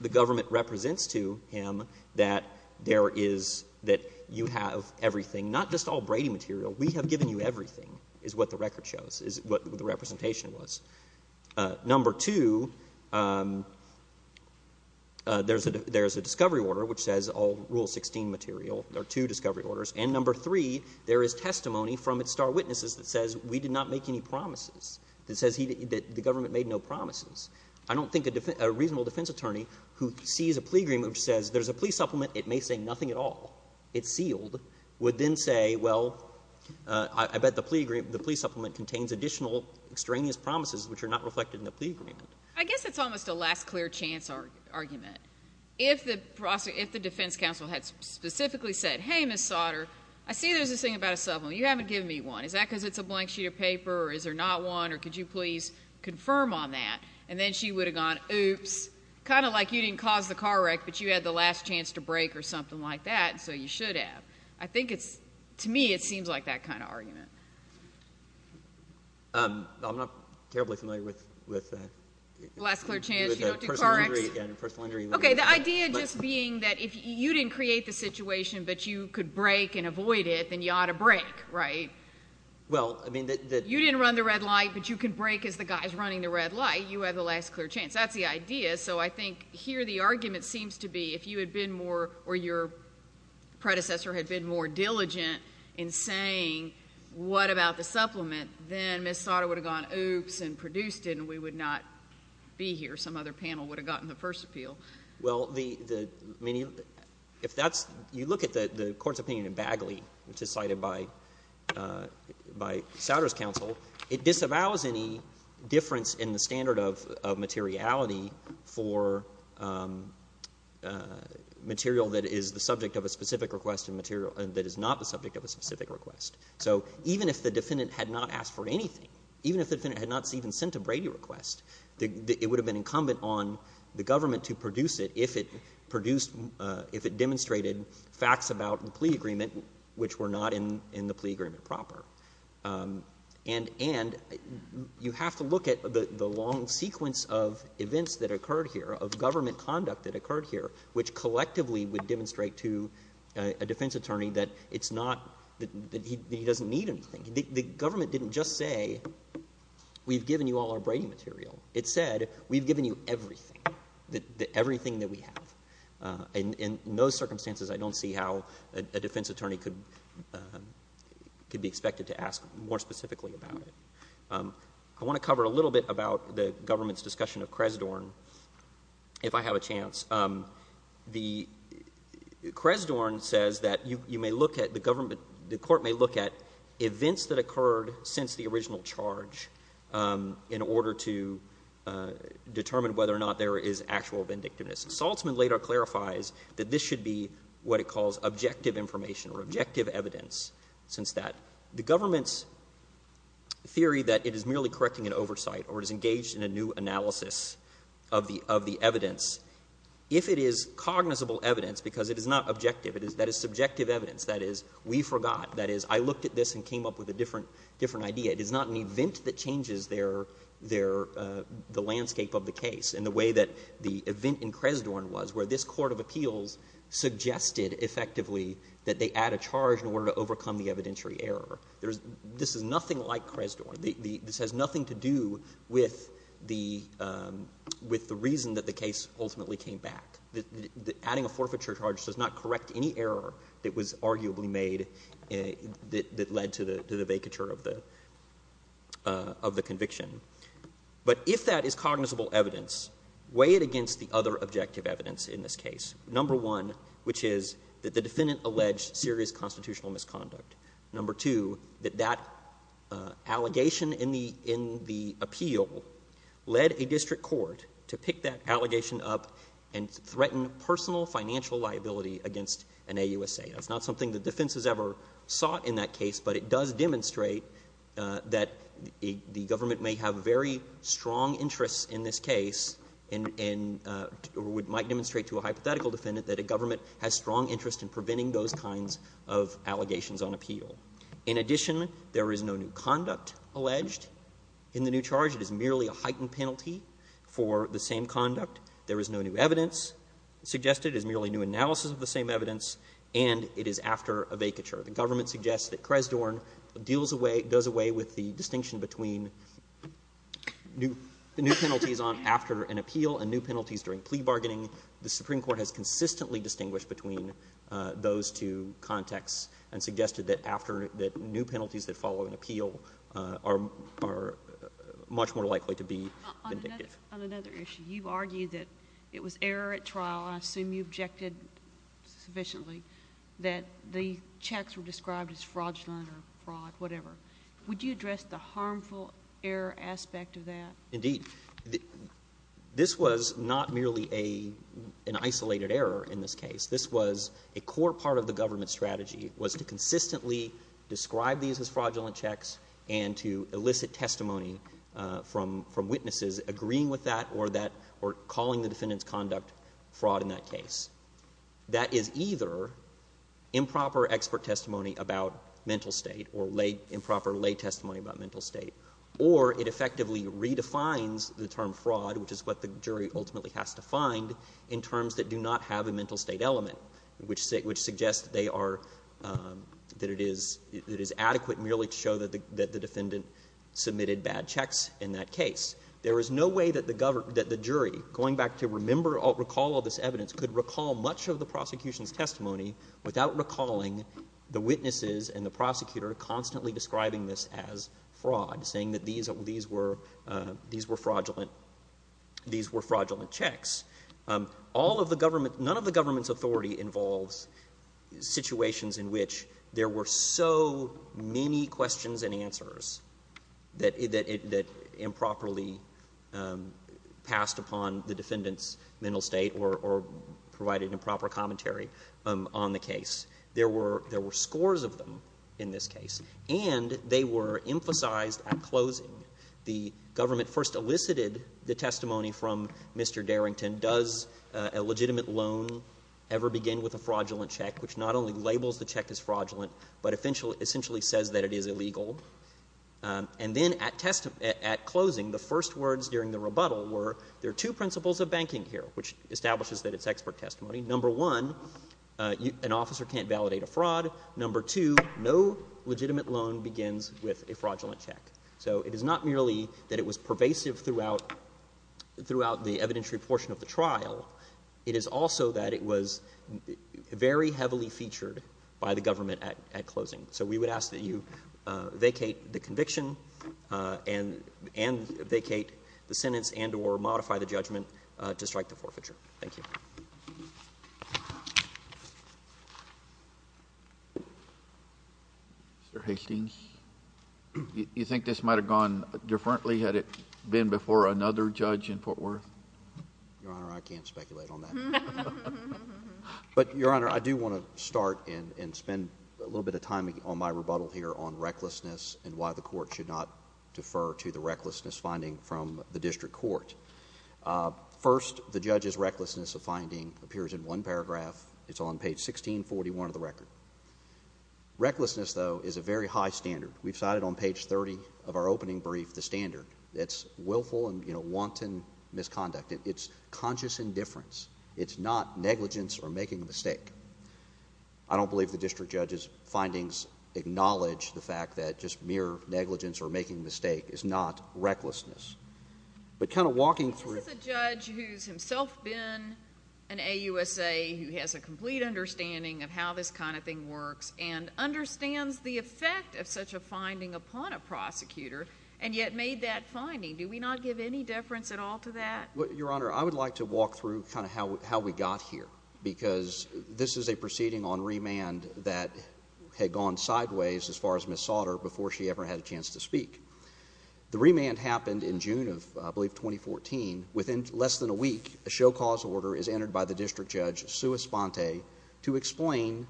the government represents to him that there is — that you have everything. Not just all Brady material. We have given you everything, is what the record shows, is what the representation was. Number two, there's a discovery order which says all Rule 16 material. There are two discovery orders. And number three, there is testimony from its star witnesses that says we did not make any promises, that says he — that the government made no promises. I don't think a reasonable defense attorney who sees a plea agreement which says there's a plea supplement, it may say nothing at all, it's sealed, would then say, well, I bet the plea agreement — the plea supplement contains additional extraneous promises which are not reflected in the plea agreement. I guess it's almost a last-clear-chance argument. If the defense counsel had specifically said, hey, Ms. Sauter, I see there's this thing about a supplement. You haven't given me one. Is that because it's a blank sheet of paper, or is there not one, or could you please confirm on that? And then she would have gone, oops, kind of like you didn't cause the car wreck, but you had the last chance to break or something like that, so you should have. I think it's — to me, it seems like that kind of argument. I'm not terribly familiar with — Last-clear-chance, you don't do car wrecks. Personal injury — Okay, the idea just being that if you didn't create the situation but you could break and avoid it, then you ought to break, right? Well, I mean, the — You didn't run the red light, but you could break as the guy's running the red light. You had the last-clear-chance. That's the idea. So I think here the argument seems to be if you had been more — or your predecessor had been more diligent in saying what about the supplement, then Ms. Sauter would have gone, oops, and produced it, and we would not be here. Some other panel would have gotten the first appeal. Well, the — I mean, if that's — you look at the Court's opinion in Bagley, which is cited by Sauter's counsel, it disavows any difference in the standard of materiality for material that is the subject of a specific request and material that is not the subject of a specific request. So even if the defendant had not asked for anything, even if the defendant had not even sent a Brady request, it would have been incumbent on the government to produce it if it produced — if it demonstrated facts about the plea agreement which were not in the plea agreement proper. And — and you have to look at the long sequence of events that occurred here, of government conduct that occurred here, which collectively would demonstrate to a defense attorney that it's not — that he doesn't need anything. The government didn't just say, we've given you all our Brady material. It said, we've given you everything, everything that we have. And in those circumstances, I don't see how a defense attorney could — could be expected to ask more specifically about it. I want to cover a little bit about the government's discussion of Cresdorn, if I have a chance. The Cresdorn says that you may look at the government — the court may look at events that occurred since the original charge in order to determine whether or not there is actual vindictiveness. Saltzman later clarifies that this should be what it calls objective information or objective evidence since that. The government's theory that it is merely correcting an oversight or it is engaged in a new analysis of the — of the evidence, if it is cognizable evidence, because it is not objective. That is subjective evidence. That is, we forgot. That is, I looked at this and came up with a different — different idea. It is not an event that changes their — their — the landscape of the case in the way that the event in Cresdorn was, where this court of appeals suggested effectively that they add a charge in order to overcome the evidentiary error. This is nothing like Cresdorn. This has nothing to do with the — with the reason that the case ultimately came back. Adding a forfeiture charge does not correct any error that was arguably made that led to the vacature of the conviction. But if that is cognizable evidence, weigh it against the other objective evidence in this case. Number one, which is that the defendant alleged serious constitutional misconduct. Number two, that that allegation in the — in the appeal led a district court to pick that allegation up and to threaten personal financial liability against an AUSA. That's not something the defense has ever sought in that case, but it does demonstrate that the government may have very strong interests in this case and would — might demonstrate to a hypothetical defendant that a government has strong interest in preventing those kinds of allegations on appeal. In addition, there is no new conduct alleged in the new charge. It is merely a heightened penalty for the same conduct. There is no new evidence suggested. It is merely new analysis of the same evidence, and it is after a vacature. The government suggests that Cresdorn deals away — does away with the distinction between new penalties on — after an appeal and new penalties during plea bargaining. The Supreme Court has consistently distinguished between those two contexts and suggested that after — that new penalties that follow an appeal are much more likely to be vindictive. On another issue, you argue that it was error at trial, and I assume you objected sufficiently, that the checks were described as fraudulent or fraud, whatever. Would you address the harmful error aspect of that? Indeed. This was not merely a — an isolated error in this case. This was — a core part of the government's strategy was to consistently describe these as fraudulent checks and to elicit testimony from witnesses agreeing with that or that — or calling the defendant's conduct fraud in that case. That is either improper expert testimony about mental state or improper lay testimony about mental state, or it effectively redefines the term fraud, which is what the jury ultimately has to find, in terms that do not have a mental state element, which suggests they are — that it is adequate merely to show that the defendant submitted bad checks in that case. There is no way that the jury, going back to remember or recall all this evidence, could recall much of the prosecution's testimony without recalling the witnesses and the prosecutor constantly describing this as fraud, saying that these were fraudulent — these were fraudulent checks. All of the government — none of the government's authority involves situations in which there were so many questions and answers that improperly passed upon the — provided improper commentary on the case. There were — there were scores of them in this case. And they were emphasized at closing. The government first elicited the testimony from Mr. Darrington, does a legitimate loan ever begin with a fraudulent check, which not only labels the check as fraudulent, but essentially says that it is illegal. And then at closing, the first words during the rebuttal were, there are two principles of banking here, which establishes that it's expert testimony. Number one, an officer can't validate a fraud. Number two, no legitimate loan begins with a fraudulent check. So it is not merely that it was pervasive throughout — throughout the evidentiary portion of the trial. It is also that it was very heavily featured by the government at closing. So we would ask that you vacate the conviction and vacate the sentence and or modify the judgment to strike the forfeiture. Thank you. JUSTICE KENNEDY. Mr. Hastings, you think this might have gone differently had it been before another judge in Fort Worth? MR. HASTINGS. Your Honor, I can't speculate on that. But, Your Honor, I do want to start and spend a little bit of time on my rebuttal here on recklessness and why the Court should not defer to the recklessness finding from the district court. First, the judge's recklessness of finding appears in one paragraph. It's on page 1641 of the record. Recklessness, though, is a very high standard. We've cited on page 30 of our opening brief the standard. It's willful and, you know, wanton misconduct. It's conscious indifference. It's not negligence or making a mistake. I don't believe the district judge's findings acknowledge the fact that just mere negligence or making a mistake is not recklessness. But kind of walking through it. This is a judge who's himself been an AUSA, who has a complete understanding of how this kind of thing works and understands the effect of such a finding upon a prosecutor and yet made that finding. Do we not give any deference at all to that? Well, Your Honor, I would like to walk through kind of how we got here because this is a proceeding on remand that had gone sideways as far as Ms. Sautter before she ever had a chance to speak. The remand happened in June of, I believe, 2014. Within less than a week, a show cause order is entered by the district judge, Sua Sponte, to explain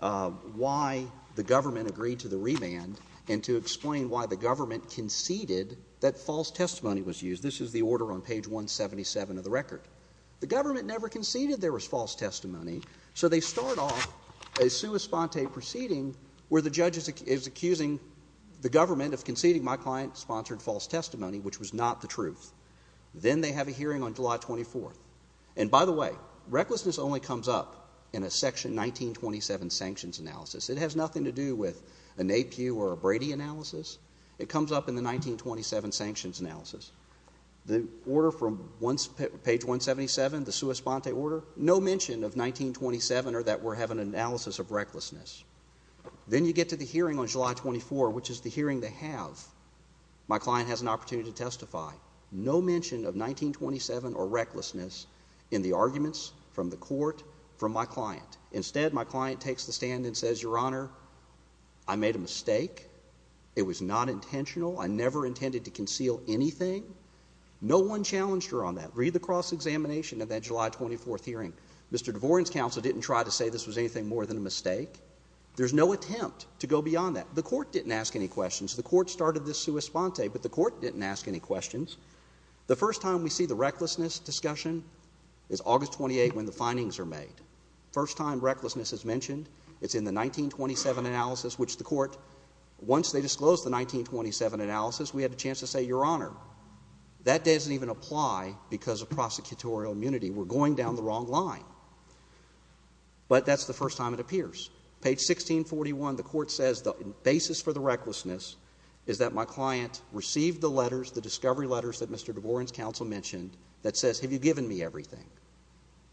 why the government agreed to the remand and to explain why the government conceded that false testimony was used. This is the order on page 177 of the record. The government never conceded there was false testimony, so they start off a Sua Sponte proceeding where the judge is accusing the client sponsored false testimony, which was not the truth. Then they have a hearing on July 24th. And by the way, recklessness only comes up in a section 1927 sanctions analysis. It has nothing to do with an APU or a Brady analysis. It comes up in the 1927 sanctions analysis. The order from page 177, the Sua Sponte order, no mention of 1927 or that we're having an analysis of recklessness. Then you get to the hearing on July 24, which is the hearing they have. My client has an opportunity to testify. No mention of 1927 or recklessness in the arguments from the court from my client. Instead, my client takes the stand and says, Your Honor, I made a mistake. It was not intentional. I never intended to conceal anything. No one challenged her on that. Read the cross-examination of that July 24th hearing. Mr. DeVoren's counsel didn't try to say this was anything more than a mistake. There's no attempt to go beyond that. The court didn't ask any questions. The court started this Sua Sponte, but the court didn't ask any questions. The first time we see the recklessness discussion is August 28 when the findings are made. The first time recklessness is mentioned, it's in the 1927 analysis, which the court, once they disclosed the 1927 analysis, we had a chance to say, Your Honor, that doesn't even apply because of prosecutorial immunity. We're going down the wrong line. But that's the first time it appears. Page 1641, the court says the basis for the recklessness is that my client received the letters, the discovery letters that Mr. DeVoren's counsel mentioned that says, Have you given me everything?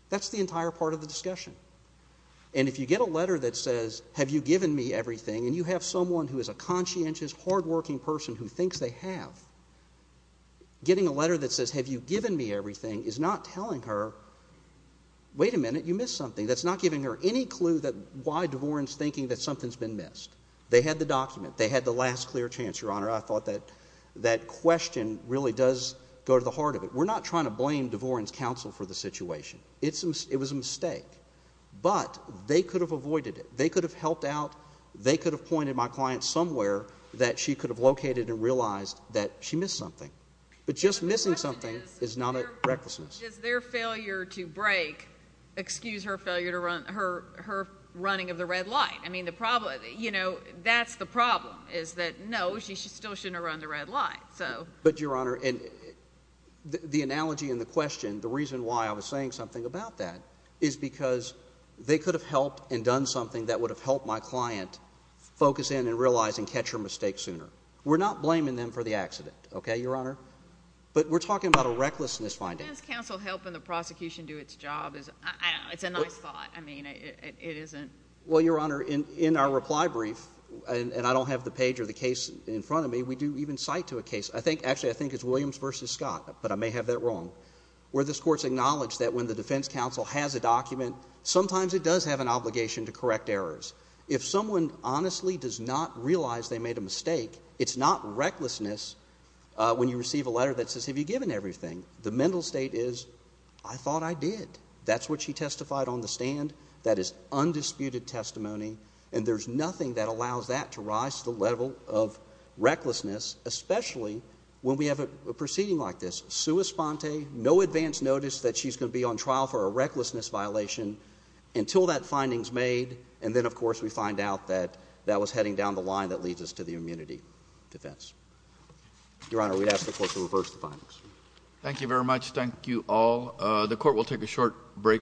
That's the entire part of the discussion. And if you get a letter that says, Have you given me everything, and you have someone who is a conscientious, hardworking person who thinks they have, getting a letter that says, Have you given me everything? is not telling her, Wait a minute, you missed something. That's not giving her any clue why DeVoren's thinking that something's been missed. They had the document. They had the last clear chance, Your Honor. I thought that question really does go to the heart of it. We're not trying to blame DeVoren's counsel for the situation. It was a mistake. But they could have avoided it. They could have helped out. They could have pointed my client somewhere that she could have located and realized that she missed something. But just missing something is not a recklessness. Does their failure to break excuse her failure to run, her running of the red light? I mean, the problem, you know, that's the problem is that, no, she still shouldn't have run the red light. But, Your Honor, the analogy and the question, the reason why I was saying something about that, is because they could have helped and done something that would have helped my client focus in and realize and catch her mistake sooner. We're not blaming them for the accident. Okay, Your Honor? But we're talking about a recklessness finding. Why is counsel helping the prosecution do its job? It's a nice thought. I mean, it isn't. Well, Your Honor, in our reply brief, and I don't have the page or the case in front of me, we do even cite to a case, actually I think it's Williams v. Scott, but I may have that wrong, where this court's acknowledged that when the defense counsel has a document, sometimes it does have an obligation to correct errors. If someone honestly does not realize they made a mistake, it's not recklessness when you receive a letter that says, Have you given everything? The mental state is, I thought I did. That's what she testified on the stand. That is undisputed testimony. And there's nothing that allows that to rise to the level of recklessness, especially when we have a proceeding like this. Sua sponte, no advance notice that she's going to be on trial for a recklessness violation until that finding's made, and then, of course, we find out that that was heading down the line that leads us to the immunity defense. Your Honor, we'd ask the court to reverse the findings. Thank you very much. Thank you all. The court will take a short break.